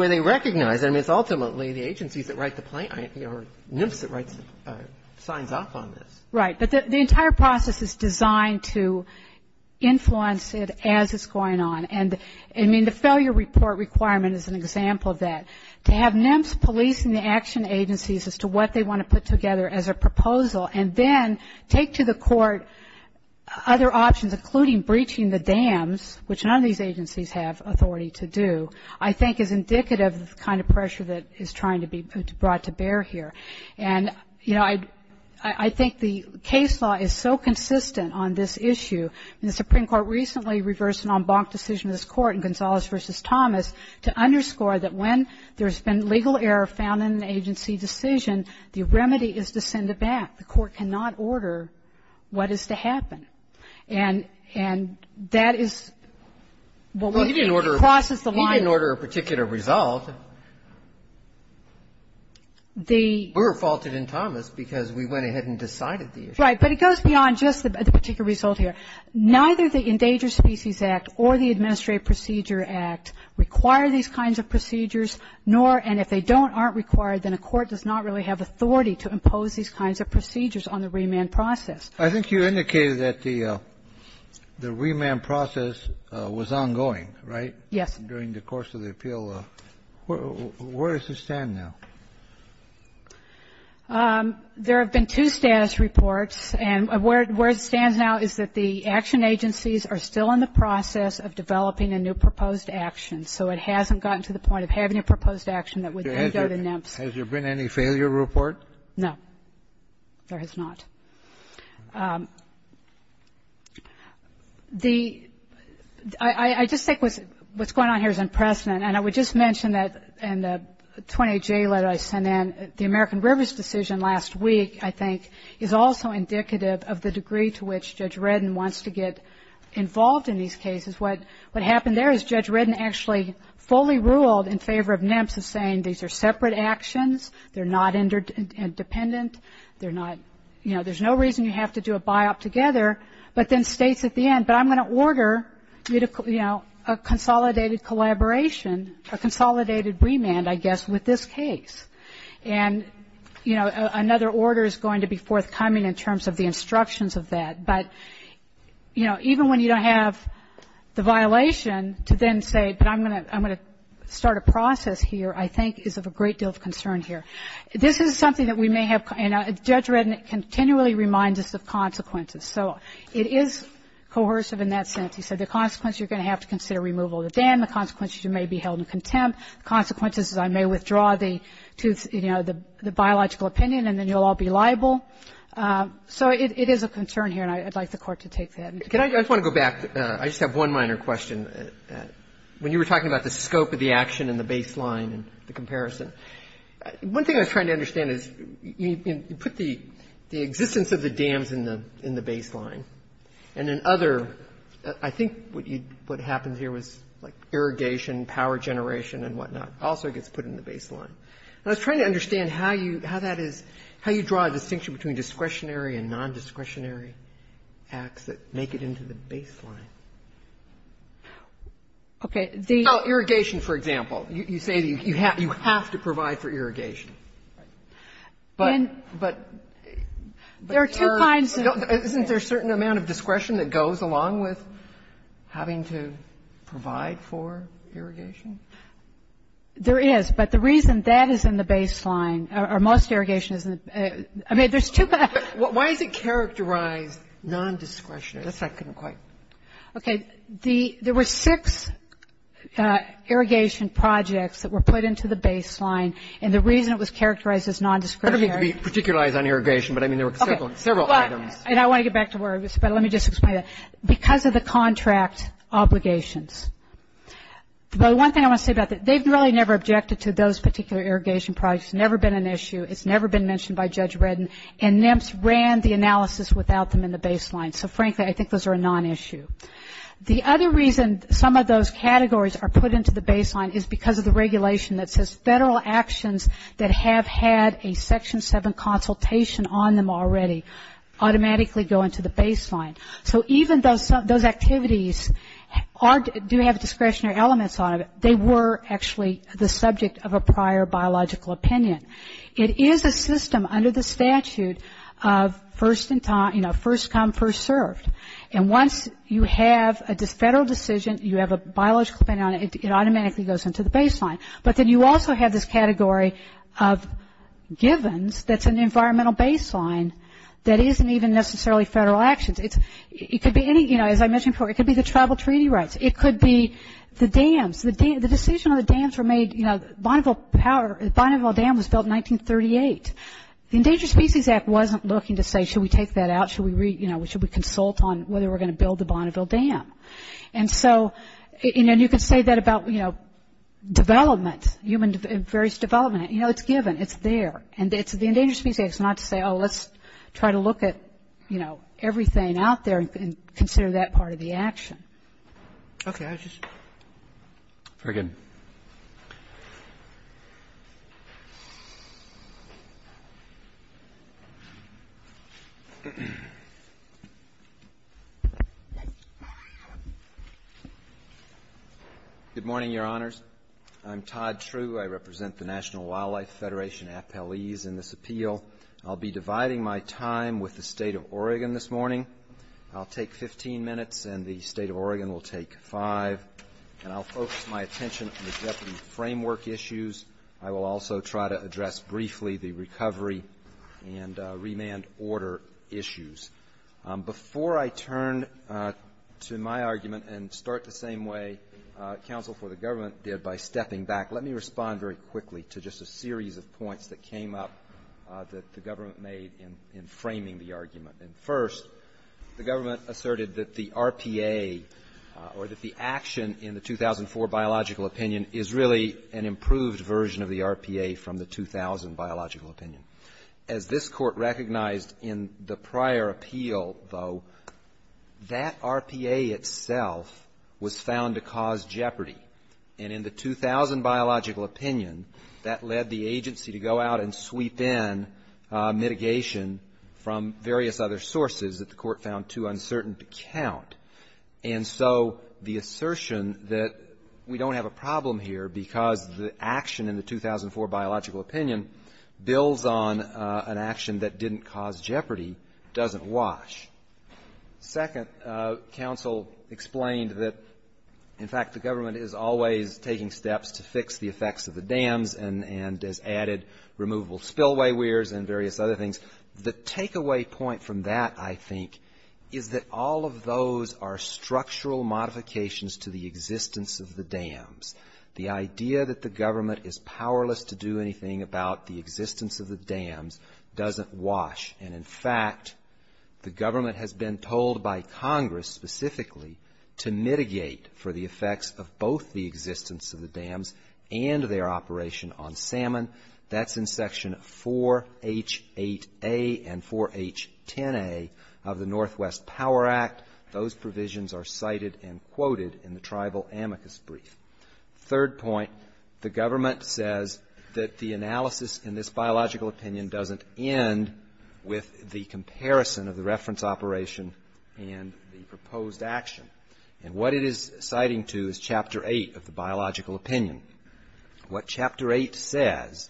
they recognize. I mean, it's ultimately the agencies that write the plan or NIMS that signs up on this. Right, but the entire process is designed to influence it as it's going on, and I mean the failure report requirement is an example of that. To have NIMS policing the action agencies as to what they want to put together as a proposal and then take to the court other options, including breaching the dams, which none of these agencies have authority to do, I think is indicative of the kind of pressure that is trying to be brought to bear here. And, you know, I think the case law is so consistent on this issue, and the Supreme Court recently reversed an en banc decision in this court in Gonzales v. Thomas to underscore that when there's been legal error found in an agency decision, the remedy is to send it back. The court cannot order what is to happen. And that is what we need to process. We didn't order a particular result. We were faulted in Thomas because we went ahead and decided the issue. Right, but it goes beyond just the particular result here. Neither the Endangered Species Act or the Administrative Procedure Act require these kinds of procedures, nor, and if they don't, aren't required, then a court does not really have authority to impose these kinds of procedures on the remand process. I think you indicated that the remand process was ongoing, right? Yes. During the course of the appeal. Where does it stand now? There have been two status reports, and where it stands now is that the action agencies are still in the process of developing a new proposed action, so it hasn't gotten to the point of having a proposed action that would go to NIMS. Has there been any failure report? No, there has not. The, I just think what's going on here is impressive, and I would just mention that in the 20-J letter I sent in, the American Rivers decision last week, I think, is also indicative of the degree to which Judge Redden wants to get involved in these cases. What happened there is Judge Redden actually fully ruled in favor of NIMS in saying these are separate actions, they're not independent, they're not, you know, there's no reason you have to do a buyout together, but then states at the end, but I'm going to order, you know, a consolidated collaboration, a consolidated remand, I guess, with this case. And, you know, another order is going to be forthcoming in terms of the instructions of that. But, you know, even when you don't have the violation to then say, but I'm going to start a process here, I think is of a great deal of concern here. This is something that we may have, and Judge Redden continually reminds us of consequences. So it is coercive in that sense. He said the consequences you're going to have to consider removal of the ban, the consequences you may be held in contempt, consequences that I may withdraw the, you know, the biological opinion and then you'll all be liable. So it is a concern here, and I'd like the Court to take that. I just want to go back. I just have one minor question. When you were talking about the scope of the action and the baseline and the comparison, one thing I was trying to understand is you put the existence of the dams in the baseline, and then other, I think what happened here was like irrigation, power generation and whatnot also gets put in the baseline. I was trying to understand how you draw a distinction between discretionary and non-discretionary acts that make it into the baseline. Okay. Irrigation, for example. You say you have to provide for irrigation. There are two kinds. Isn't there a certain amount of discretion that goes along with having to provide for irrigation? There is, but the reason that is in the baseline, or most irrigation, I mean there's two kinds. Why is it characterized non-discretionary? That's my second question. Okay. There were six irrigation projects that were put into the baseline, and the reason it was characterized as non-discretionary. I don't mean to be particular on irrigation, but I mean there were several items. And I want to get back to where I was, but let me just explain that. Because of the contract obligations. The one thing I want to say about that, they've really never objected to those particular irrigation projects. It's never been an issue. It's never been mentioned by Judge Redden. And NEMS ran the analysis without them in the baseline. So, frankly, I think those are a non-issue. The other reason some of those categories are put into the baseline is because of the regulation that says federal actions that have had a Section 7 consultation on them already automatically go into the baseline. So, even though those activities do have discretionary elements on them, they were actually the subject of a prior biological opinion. It is a system under the statute of first come, first served. And once you have a federal decision, you have a biological opinion on it, it automatically goes into the baseline. But then you also have this category of givens that's an environmental baseline that isn't even necessarily federal actions. It could be any, you know, as I mentioned before, it could be the tribal treaty rights. It could be the dams. The decision on the dams were made, you know, Bonneville Dam was built in 1938. The Endangered Species Act wasn't looking to say, should we take that out? Should we consult on whether we're going to build the Bonneville Dam? And so, and you can say that about, you know, development, human and various development. You know, it's given. It's there. And the Endangered Species Act is not to say, oh, let's try to look at, you know, everything out there and consider that part of the action. Okay. Very good. Good morning, Your Honors. I'm Todd True. I represent the National Wildlife Federation at Palis in this appeal. I'll be dividing my time with the state of Oregon this morning. I'll take 15 minutes, and the state of Oregon will take five. And I'll focus my attention on the refugee framework issues. I will also try to address briefly the recovery and remand order issues. Before I turn to my argument and start the same way counsel for the government did by stepping back, let me respond very quickly to just a series of points that came up that the government made in framing the argument. First, the government asserted that the RPA, or that the action in the 2004 biological opinion, is really an improved version of the RPA from the 2000 biological opinion. As this court recognized in the prior appeal, though, that RPA itself was found to cause jeopardy. And in the 2000 biological opinion, that led the agency to go out and sweep in mitigation from various other sources that the court found too uncertain to count. And so the assertion that we don't have a problem here because the action in the 2004 biological opinion builds on an action that didn't cause jeopardy doesn't wash. Second, counsel explained that, in fact, the government is always taking steps to fix the effects of the dams and has added removal spillway weirs and various other things. The takeaway point from that, I think, is that all of those are structural modifications to the existence of the dams. The idea that the government is powerless to do anything about the existence of the dams doesn't wash. And, in fact, the government has been told by Congress, specifically, to mitigate for the effects of both the existence of the dams and their operation on salmon. That's in section 4H8A and 4H10A of the Northwest Power Act. Those provisions are cited and quoted in the tribal amicus brief. Third point, the government says that the analysis in this biological opinion doesn't end with the comparison of the reference operation and the proposed action. And what it is citing to is chapter 8 of the biological opinion. What chapter 8 says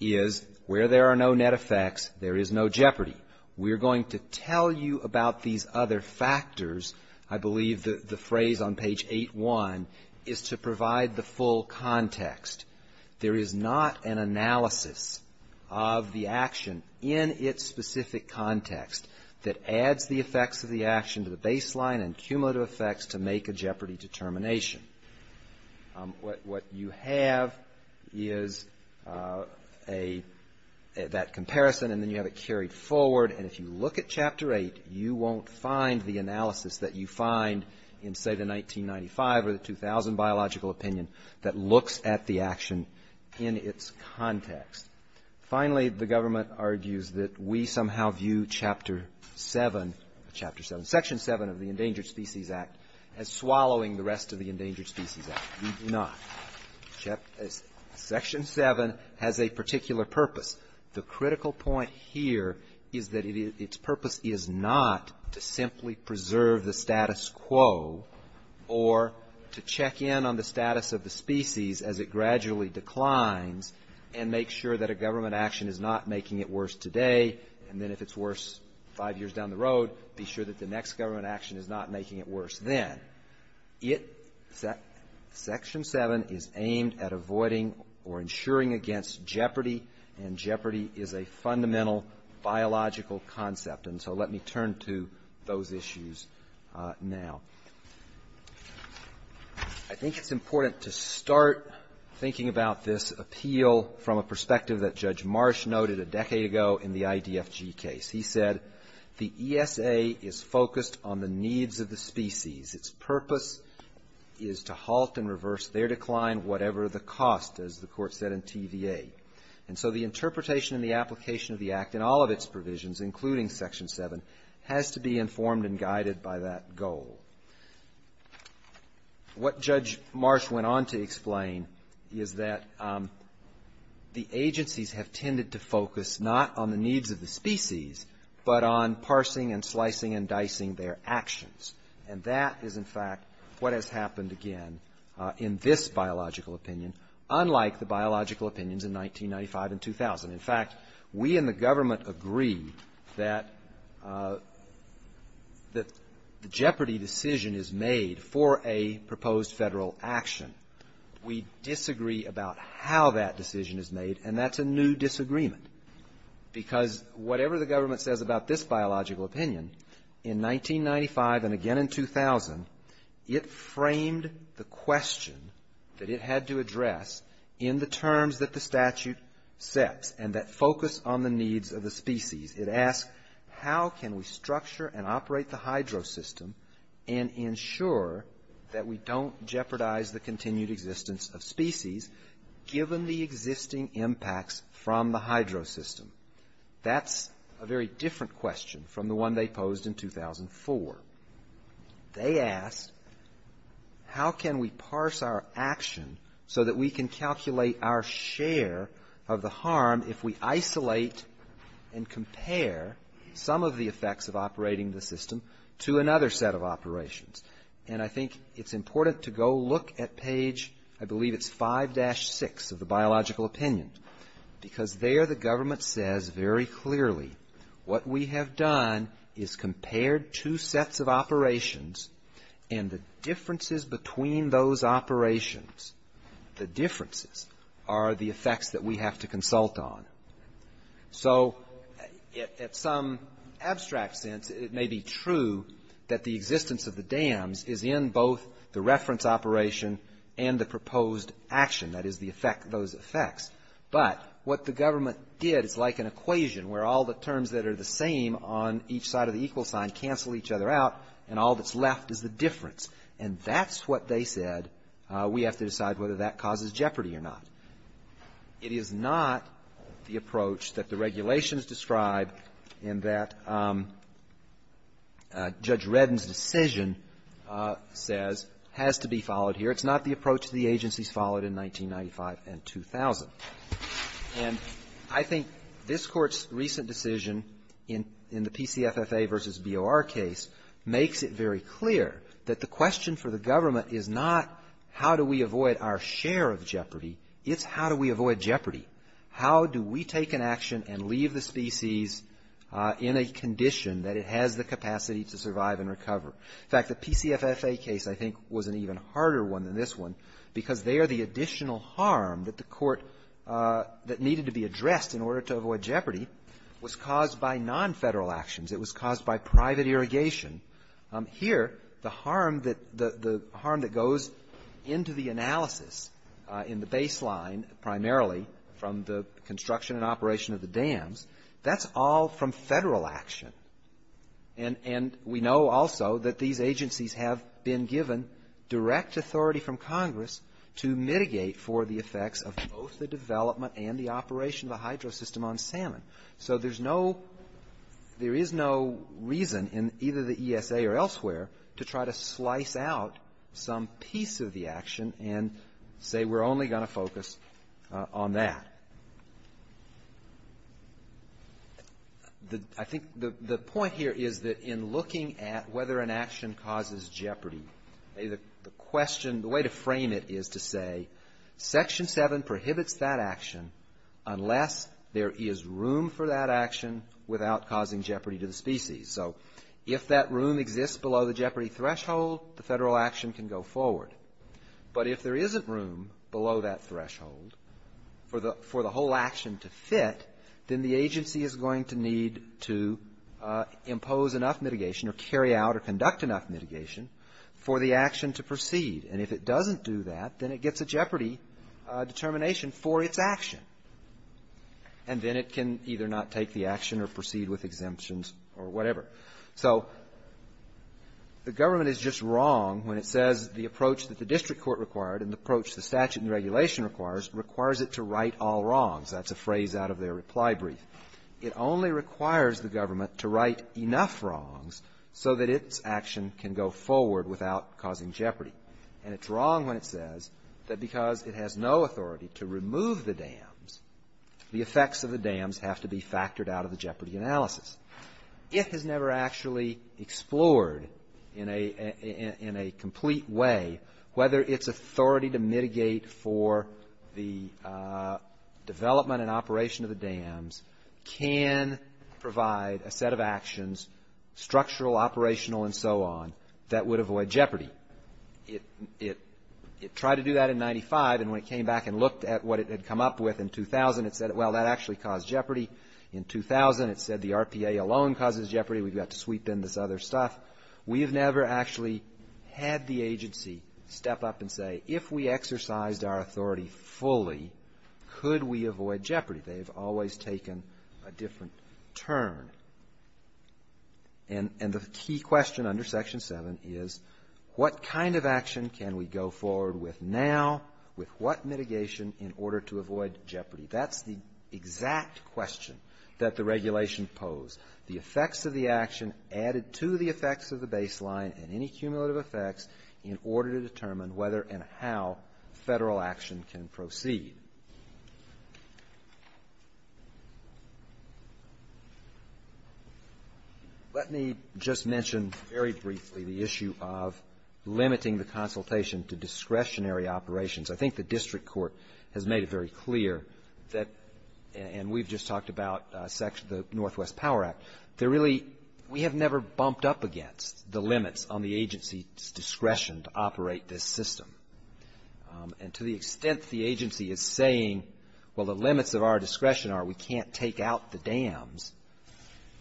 is, where there are no net effects, there is no jeopardy. We're going to tell you about these other factors. I believe that the phrase on page 8-1 is to provide the full context. There is not an analysis of the action in its specific context that adds the effects of the action to the baseline and cumulative effects to make a jeopardy determination. What you have is that comparison and then you have it carried forward. And if you look at chapter 8, you won't find the analysis that you find in say the 1995 or the 2000 biological opinion that looks at the action in its context. Finally, the government argues that we somehow view chapter 7, section 7 of the Endangered Species Act as swallowing the rest of the Endangered Species Act. We do not. Section 7 has a particular purpose. The critical point here is that its purpose is not to simply preserve the status quo or to check in on the status of the species as it gradually declines and make sure that a government action is not making it worse today and then if it's worse five years down the road, be sure that the next government action is not making it worse then. Section 7 is aimed at avoiding or ensuring against jeopardy and jeopardy is a fundamental biological concept. And so let me turn to those issues now. I think it's important to start thinking about this appeal from a perspective that Judge Marsh noted a decade ago in the IDFG case. He said the ESA is focused on the needs of the species. Its purpose is to halt and reverse their decline whatever the cost, as the court said in TVA. And so the interpretation and the application of the act in all of its provisions, including section 7, has to be informed and guided by that goal. What Judge Marsh went on to explain is that the agencies have tended to focus not on the needs of the species but on parsing and slicing and dicing their actions. And that is in fact what has happened again in this biological opinion, unlike the biological opinions in 1995 and 2000. In fact, we in the government agree that the jeopardy decision is made for a proposed federal action. We disagree about how that decision is made and that's a new disagreement because whatever the government says about this biological opinion, in 1995 and again in 2000, it framed the question that it had to address in the terms that the statute set and that focused on the needs of the species. It asked how can we structure and operate the hydro system and ensure that we don't jeopardize the continued existence of species given the existing impacts from the hydro system. That's a very different question from the one they posed in 2004. They asked how can we parse our action so that we can calculate our share of the harm if we isolate and compare some of the effects of operating the system to another set of operations. And I think it's important to go look at page, I believe it's 5-6 of the biological opinion because there the government says very clearly what we have done is compared two sets of operations and the differences between those operations, the differences are the effects that we have to consult on. So, at some abstract sense, it may be true that the existence of the dams is in both the reference operation and the proposed action, that is those effects. But what the government did is like an equation where all the terms that are the same on each side of the equal sign cancel each other out and all that's left is the difference. And that's what they said we have to decide whether that causes jeopardy or not. It is not the approach that the regulations describe and that Judge Redden's decision says has to be followed here. It's not the approach the agencies followed in 1995 and 2000. And I think this Court's recent decision in the PCFSA versus BOR case makes it very clear that the question for the government is not how do we avoid our share of jeopardy, it's how do we avoid jeopardy. How do we take an action and leave the species in a condition that it has the capacity to survive and recover? In fact, the PCFSA case I think was an even harder one than this one because there the additional harm that the Court that needed to be addressed in order to avoid jeopardy was caused by non-federal actions. It was caused by private irrigation. Here, the harm that goes into the analysis in the baseline primarily from the construction and operation of the dams, that's all from federal action. And we know also that these agencies have been given direct authority from Congress to mitigate for the effects of both the development and the operation of the hydro system on salmon. So there is no reason in either the ESA or elsewhere to try to slice out some piece of the action and say we're only going to focus on that. I think the point here is that in looking at whether an action causes jeopardy, the question, the way to frame it is to say Section 7 prohibits that action unless there is room for that action without causing jeopardy to the species. So if that room exists below the jeopardy threshold, the federal action can go forward. But if there isn't room below that threshold for the whole action to fit, then the agency is going to need to impose enough mitigation or carry out or conduct enough mitigation for the action to proceed. And if it doesn't do that, then it gets a jeopardy determination for its action. And then it can either not take the action or proceed with exemptions or whatever. So the government is just wrong when it says the approach that the district court required and the approach the statute and regulation requires, requires it to right all wrongs. That's a phrase out of their reply brief. It only requires the government to right enough wrongs so that its action can go forward without causing jeopardy. And it's wrong when it says that because it has no authority to remove the dams, the effects of the dams have to be factored out of the jeopardy analysis. If it's never actually explored in a complete way whether its authority to mitigate for the development and operation of the dams can provide a set of actions, structural, operational, and so on, that would avoid jeopardy. It tried to do that in 95, and when it came back and looked at what it had come up with in 2000, it said, well, that actually caused jeopardy. In 2000, it said the RPA alone causes jeopardy. We've got to sweep in this other stuff. We have never actually had the agency step up and say, if we exercised our authority fully, could we avoid jeopardy? They have always taken a different turn. And the key question under Section 7 is, what kind of action can we go forward with now? With what mitigation in order to avoid jeopardy? That's the exact question that the regulation posed. The effects of the action added to the effects of the baseline and any cumulative effects in order to determine whether and how federal action can proceed. Let me just mention very briefly the issue of limiting the consultation to discretionary operations. I think the district court has made it very clear, and we've just talked about the Northwest Power Act, that really we have never bumped up against the limits on the agency's discretion to operate this system. And to the extent the agency is saying, well, the limits of our discretion are we can't take out the dams,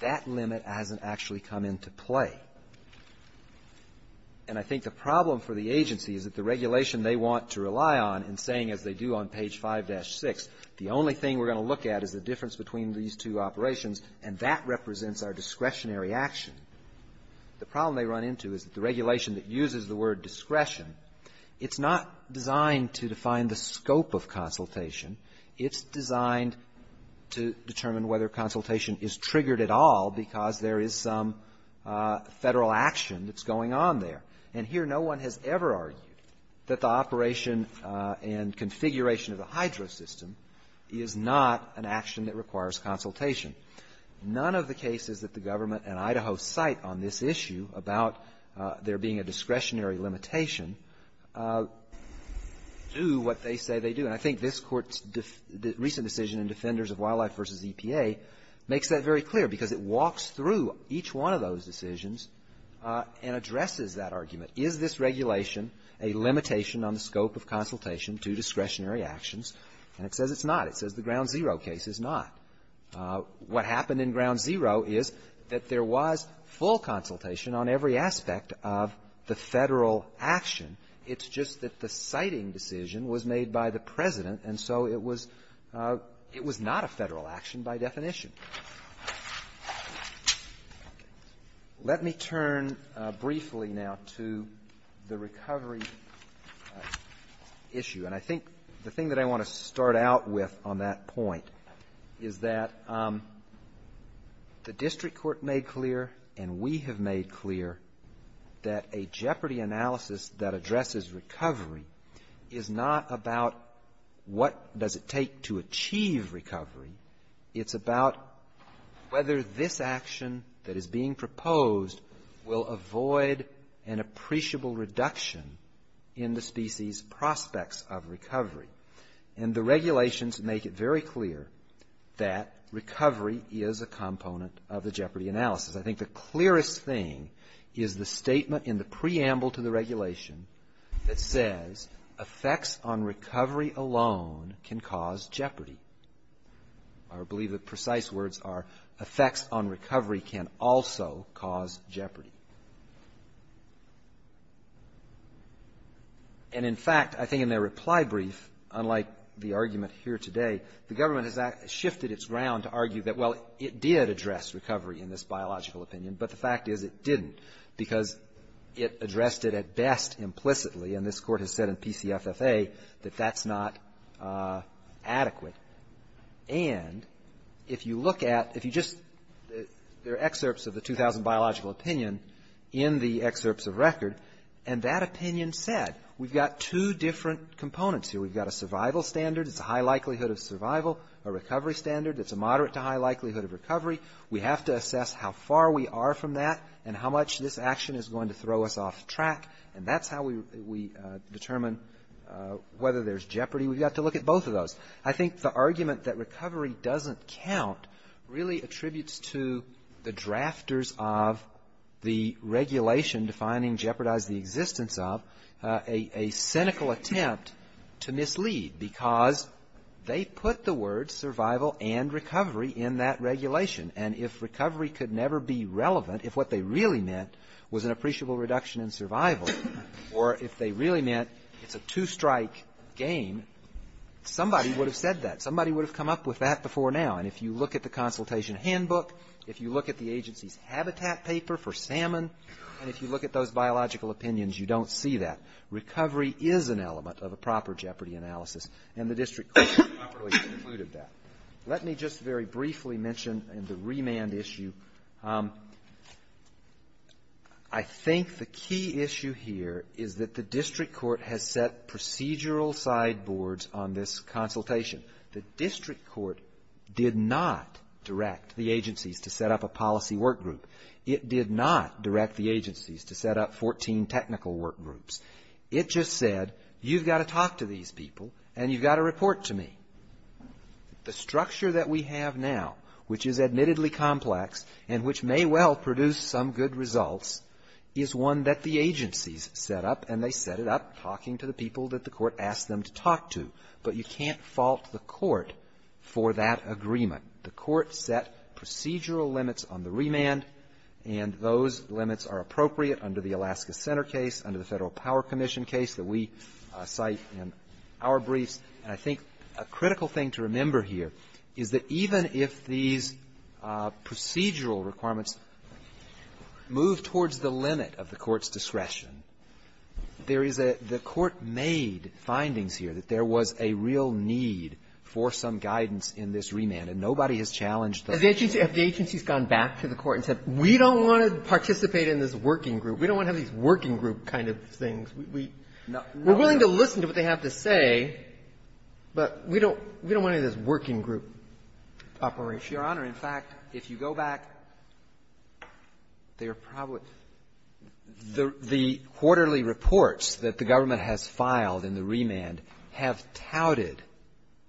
that limit hasn't actually come into play. And I think the problem for the agency is that the regulation they want to rely on in saying, as they do on page 5-6, the only thing we're going to look at is the difference between these two operations and that represents our discretionary action. The problem they run into is that the regulation that uses the word discretion, it's not designed to define the scope of consultation. It's designed to determine whether consultation is triggered at all because there is some federal action that's going on there. And here no one has ever argued that the operation and configuration of the hydro system is not an action that requires consultation. None of the cases that the government and Idaho cite on this issue about there being a discretionary limitation do what they say they do. And I think this Court's recent decision in Defenders of Wildlife v. EPA makes that very clear because it walks through each one of those decisions and addresses that argument. Is this regulation a limitation on the scope of consultation to discretionary actions? And it says it's not. It says the Ground Zero case is not. What happened in Ground Zero is that there was full consultation on every aspect of the federal action. It's just that the citing decision was made by the President and so it was not a federal action by definition. Let me turn briefly now to the recovery issue. And I think the thing that I want to start out with on that point is that the District Court made clear and we have made clear that a jeopardy analysis that addresses recovery is not about what does it take to achieve recovery. It's about whether this action that is being proposed will avoid an appreciable reduction in the species prospects of recovery. And the regulations make it very clear that recovery is a component of the jeopardy analysis. I think the clearest thing is the statement in the preamble to the regulation that says effects on recovery alone can cause jeopardy. I believe the precise words are effects on recovery can also cause jeopardy. And in fact, I think in their reply brief, unlike the arguments here today, the government has shifted its ground to argue that, well, it did address recovery in this biological opinion, but the fact is it didn't because it addressed it at best implicitly and this Court has said in PCFSA that that's not adequate. And if you look at, if you just, there are excerpts of the 2000 Biological Opinion in the excerpts of record and that opinion said we've got two different components here. We've got a survival standard. It's a high likelihood of survival. A recovery standard. It's a moderate to high likelihood of recovery. We have to assess how far we are from that and how much this action is going to throw us off track and that's how we determine whether there's jeopardy. We've got to look at both of those. I think the argument that recovery doesn't count really attributes to the drafters of the regulation defining jeopardize the existence of a cynical attempt to mislead because they put the words survival and recovery in that regulation and if recovery could never be relevant, if what they really meant was an appreciable reduction in survival or if they really meant it's a two-strike game, somebody would have said that. Somebody would have come up with that before now and if you look at the consultation handbook, if you look at the agency's habitat paper for salmon and if you look at those biological opinions, you don't see that. Recovery is an element of a proper jeopardy analysis and the district court operation included that. Let me just very briefly mention the remand issue. I think the key issue here is that the district court has set procedural sideboards on this consultation. The district court did not direct the agency to set up a policy workgroup. It did not direct the agencies to set up 14 technical workgroups. It just said you've got to talk to these people and you've got to report to me. The structure that we have now, which is admittedly complex and which may well produce some good results, is one that the agencies set up and they set it up talking to the people that the court asked them to talk to but you can't fault the court for that agreement. The court set procedural limits on the remand and those limits are appropriate under the Alaska Center case, under the Federal Power Commission case that we cite in our brief. I think a critical thing to remember here is that even if these procedural requirements move towards the limit of the court's discretion, the court made findings here that there was a real need for some guidance in this remand and nobody has challenged that. If the agency has gone back to the court and said we don't want to participate in this working group, we don't want to have these working group kind of things, we're willing to listen to what they have to say but we don't want to have this working group operation. Your Honor, in fact, if you go back, there are probably the quarterly reports that the government has filed in the remand have touted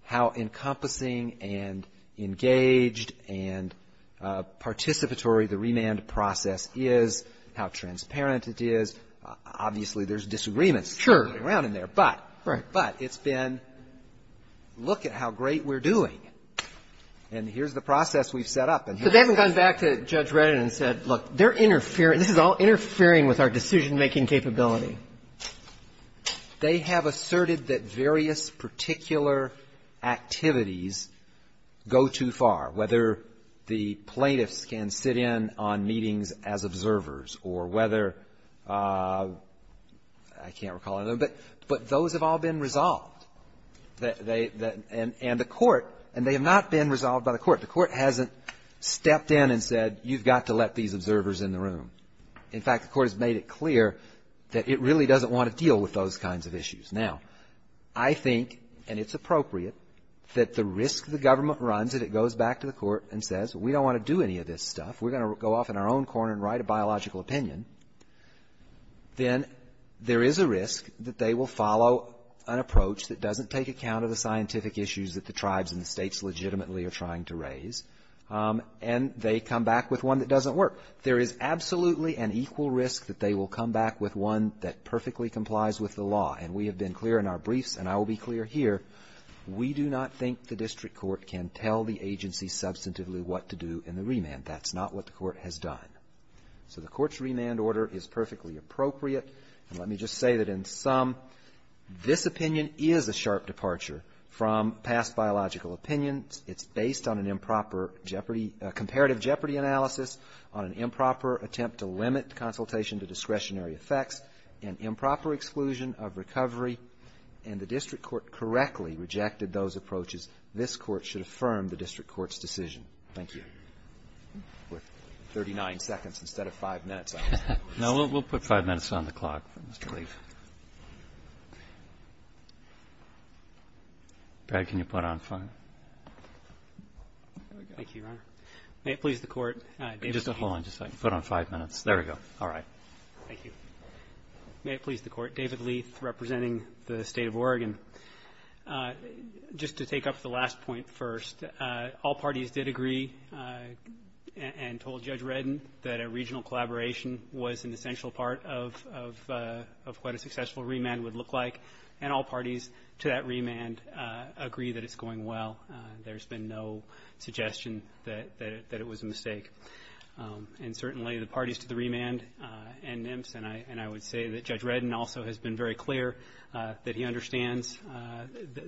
how encompassing and engaged and participatory the remand process is, how transparent it is. Obviously, there's disagreements around in there but it's been look at how great we're doing and here's the process we've set up. So they haven't gone back to Judge Brennan and said look, they're interfering, this is all interfering with our decision-making capability. They have asserted that various particular activities go too far, whether the plaintiffs can sit in on meetings as observers or whether, I can't recall, but those have all been resolved and the court, and they have not been resolved by the court. The court hasn't stepped in and said you've got to let these observers in the room. In fact, the court has made it clear that it really doesn't want to deal with those kinds of issues. Now, I think, and it's appropriate, that the risk the government runs if it goes back to the court and says we don't want to do any of this stuff, we're going to go off in our own corner and write a biological opinion, then there is a risk that they will follow an approach that doesn't take account of the scientific issues that the tribes and the states legitimately are trying to raise and they come back with one that doesn't work. There is absolutely an equal risk that they will come back with one that perfectly complies with the law and we have been clear in our briefs and I will be clear here, we do not think the district court can tell the agency substantively what to do in the remand. That's not what the court has done. So the court's remand order is perfectly appropriate and let me just say that in sum, this opinion is a sharp departure from past biological opinions. It's based on an improper jeopardy, a comparative jeopardy analysis on improper attempt to limit consultation to discretionary effects and improper exclusion of recovery and the district court correctly rejected those approaches. This court should affirm the district court's decision. Thank you. With 39 seconds instead of five minutes. No, we'll put five minutes on the clock. Thank you, Your Honor. May it please the court, David Leith, representing the state of Oregon. Just to take up the last point first, all parties did agree and told Judge Redden that a regional collaboration was an essential part of what a successful remand would look like and all parties to that remand agree that it's going well. that it was a mistake. Thank you. Thank you. Thank you. Thank you. And certainly the parties to the remand and NIMS and I would say that Judge Redden also has been very clear that he understands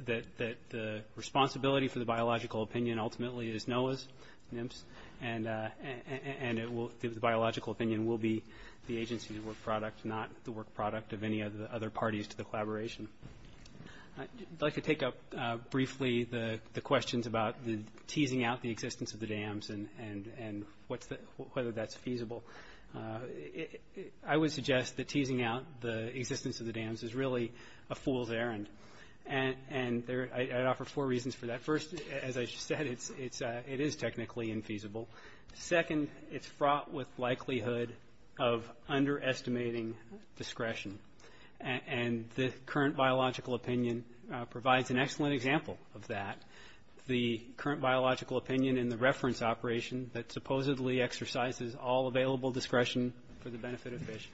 that the responsibility for the biological opinion ultimately is NOAA's, NIMS, and the biological opinion will be the agency's work product, not the work product of any of the other parties to the collaboration. I'd like to take up briefly the questions about the teasing out the existence of the dams and whether that's feasible. I would suggest that teasing out the existence of the dams is really a fool's errand and I'd offer four reasons for that. First, as I said, it is technically infeasible. Second, it's fraught with likelihood of underestimating discretion and this current biological opinion provides an excellent example of that. The current biological opinion and the reference operation that supposedly exercises all available discretion for the benefit of fish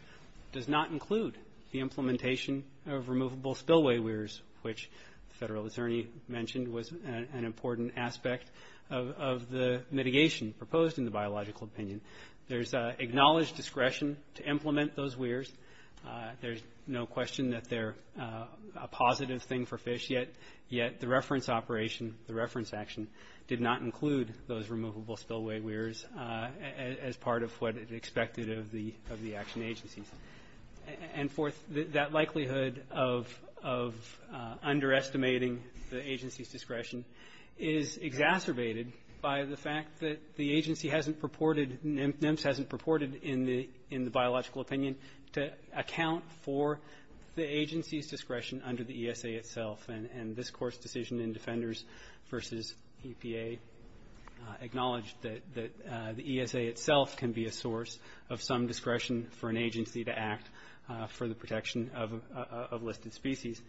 does not include the implementation of removable spillway weirs which the federal attorney mentioned was an important aspect of the mitigation proposed in the biological opinion. There's acknowledged discretion to implement those weirs. There's no question that they're a positive thing for fish yet the reference operation, the reference action, did not include those removable spillway weirs as part of what is expected of the action agencies. And fourth, that likelihood of underestimating the agency's discretion is exacerbated by the fact that the agency hasn't purported, NIMS hasn't purported in the biological opinion to account for the agency's and this court's decision in Defenders versus EPA acknowledged that the ESA itself can be a source of some discretion for an agency to act for the protection of listed species.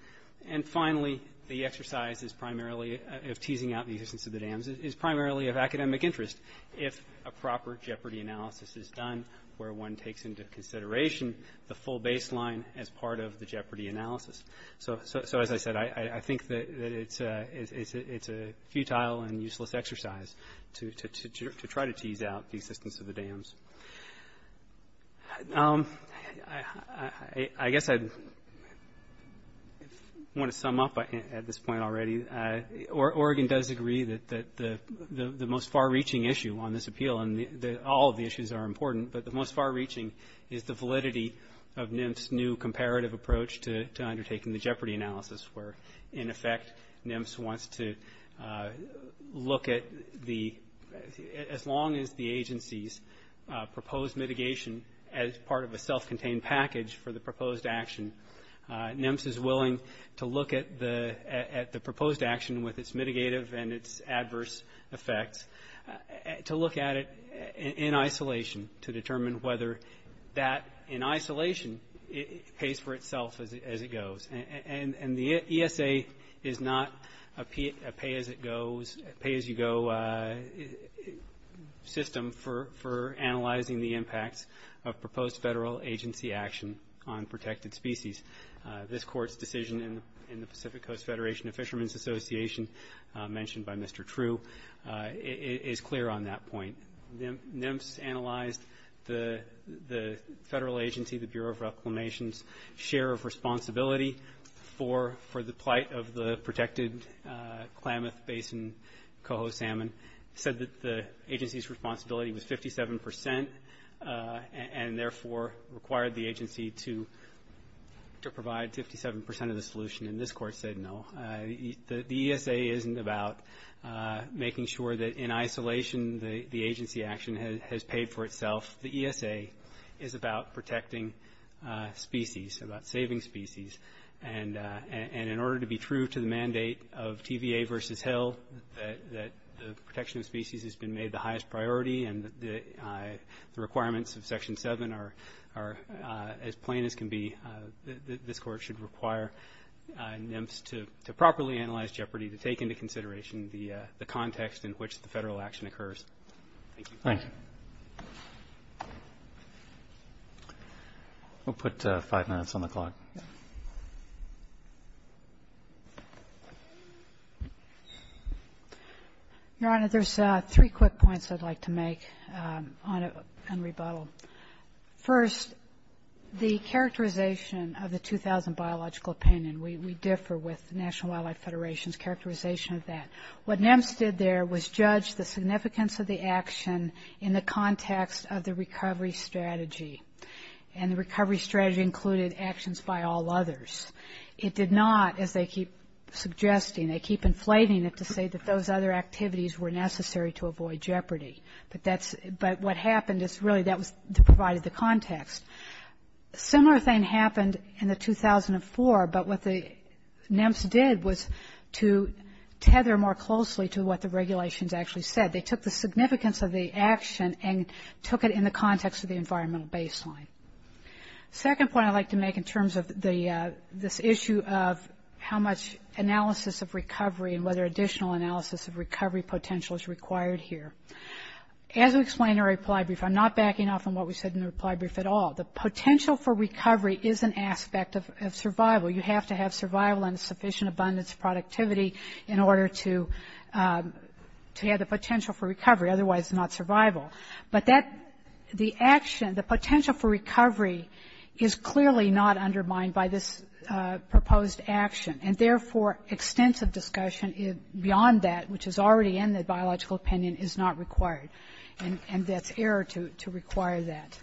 And finally, the exercise is primarily of teasing out the existence of the dams is primarily of academic interest if a proper jeopardy analysis is done where one takes into consideration the full baseline as part of the jeopardy analysis. So as I said, I think that it's a futile and useless exercise to try to tease out the existence of the dams. I guess I want to sum up at this point already. Oregon does agree that the most far-reaching issue on this appeal, and all of the issues are important, but the most far-reaching is the validity of NIMS' new taking the jeopardy analysis where in effect, NIMS wants to look at as long as the agency's proposed mitigation as part of a self-contained package for the proposed action, NIMS is willing to look at the proposed action with its mitigative and its adverse effect to look at it in isolation to determine whether that in isolation pays for itself as it goes. And the ESA is not a pay-as-you-go system for analyzing the impact of proposed federal agency action on protected species. This court's decision in the Pacific Coast Federation of Fishermen's Association, mentioned by Mr. True, is clear on that point. NIMS analyzed the federal agency, the Bureau of Reclamation's share of responsibility for the plight of the protected climate basin coho salmon, said that the agency's responsibility was 57%, and therefore required the agency to provide 57% of the solution, and this court said no. The ESA isn't about making sure that in isolation the agency action has paid for itself. The ESA is about protecting species, about saving species, and in order to be true to the mandate of TVA versus Hill, that the protection of species has been made the highest priority and the requirements of Section 7 are as plain as can be, this court should require NIMS to properly analyze Jeopardy to take into consideration the context in which the federal action occurs. Thank you. We'll put five minutes on the clock. Your Honor, there's three quick points I'd like to make on rebuttal. First, the characterization of the 2000 Biological Opinion, we differ with the National Wildlife Federation's characterization of that. What NIMS did there was judge the significance of the action in the context of the recovery strategy, and the recovery strategy included actions by all others. It did not, as they keep suggesting, they keep inflating it to say that those other activities were necessary to avoid Jeopardy, but what happened is really that provided the context. A similar thing happened in the 2004, but what the NIMS did was to tether more closely to what the regulations actually said. They took the significance of the action and took it in the context of the environmental baseline. Second point I'd like to make in terms of this issue of how much analysis of recovery and whether additional analysis of recovery potential is required here. As we explained in our reply brief, I'm not backing off on what we said in the reply brief at all. The potential for recovery is an aspect of survival. You have to have survival and sufficient abundance of productivity in order to have the potential for recovery, otherwise it's not survival. But that, the action, the potential for recovery is clearly not undermined by this proposed action and therefore extensive discussion beyond that, which is already in the biological opinion, is not required, and that's error to require that.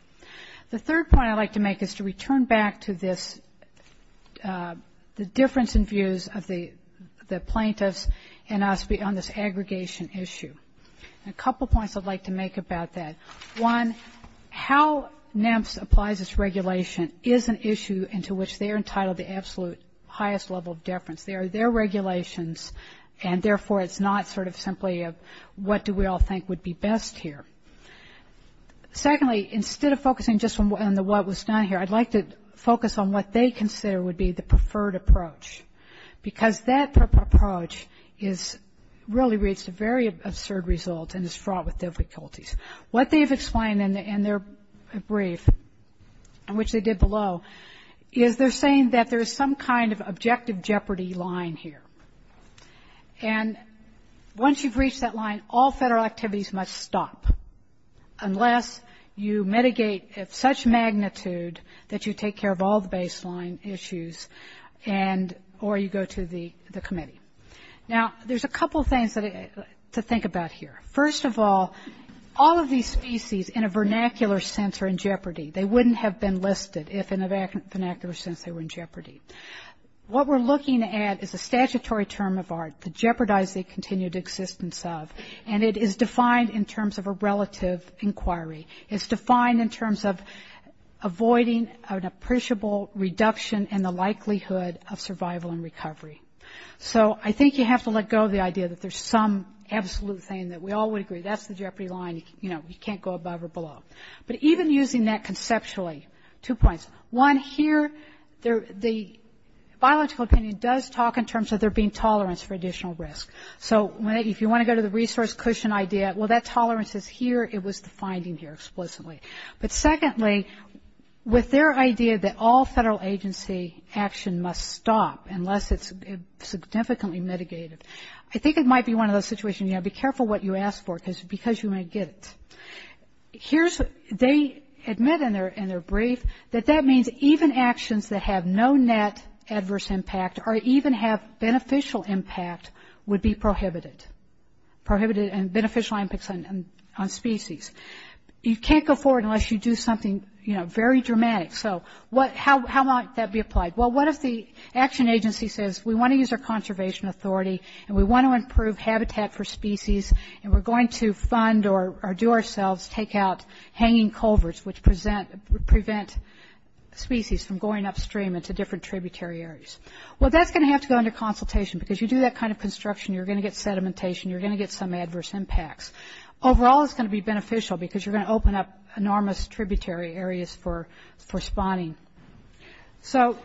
The third point I'd like to make is to return back to this, the difference in views of the plaintiffs and us beyond this aggregation issue. A couple points I'd like to make about that. One, how NEMS applies this regulation is an issue into which they're entitled to absolute highest level of deference. They are their regulations and therefore it's not sort of simply a what do we all think would be best here. Secondly, instead of focusing just on what was done here, I'd like to focus on what they consider would be the preferred approach. Because that approach is really reached a very absurd result and is fraught with difficulties. What they've explained in their brief, which they did below, is they're saying that there's some kind of objective jeopardy line here. And once you've reached that line, all federal activities must stop unless you mitigate at such magnitude that you take care of all the baseline issues and or you go to the committee. Now there's a couple things to think about here. First of all, all of these species in a vernacular sense are in jeopardy. They wouldn't have been listed if in a vernacular sense they were in jeopardy. What we're looking at is a statutory term of art to jeopardize the continued existence of. And it is defined in terms of a relative inquiry. It's defined in terms of avoiding an appreciable reduction in the likelihood of survival and recovery. So I think you have to let go of the idea that there's some absolute thing that we all would agree, that's the jeopardy line, you know, you can't go above or below. But even using that conceptually, two points. One, here, the biological opinion does talk in terms of there being tolerance for additional risk. So if you want to go to the resource cushion idea, well that tolerance is here, it was defined here explicitly. But secondly, with their idea that all federal agency action must stop unless it's significantly mitigated. I think it might be one of those situations, be careful what you ask for because you might get it. Here's, they admit in their brief that that means even actions that have no net adverse impact or even have beneficial impact would be prohibited. Prohibited and beneficial impacts on species. You can't go forward unless you do something very dramatic. So how might that be applied? Well what if the action agency says, we want to use our conservation authority and we want to improve habitat for species and we're going to fund or do ourselves, take out hanging culverts which prevent species from going upstream into different tributary areas. Well that's going to have to go into consultation because you do that kind of construction, you're going to get sedimentation, you're going to get some adverse impacts. Overall it's going to be beneficial because you're going to open up enormous tributary areas for spawning. So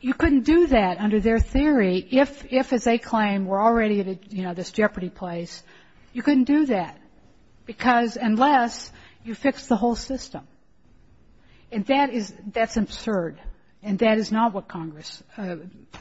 you couldn't do that under their theory if as they claim we're already at this jeopardy place. You couldn't do that because unless you fix the whole system. And that's absurd and that is not what Congress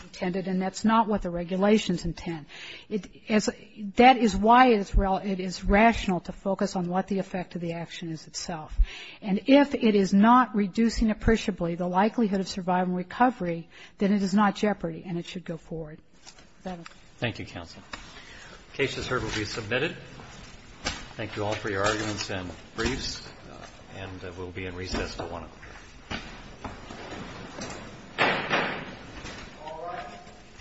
intended and that's not what the regulations intend. That is why it is rational to focus on what the effect of the action is itself. And if it is not reducing appreciably the likelihood of survival and recovery, then it is not jeopardy and it should go forward. Thank you counsel. The case is heard and will be submitted. Thank you all for your arguments and briefs and we'll be in recess at one. Alright.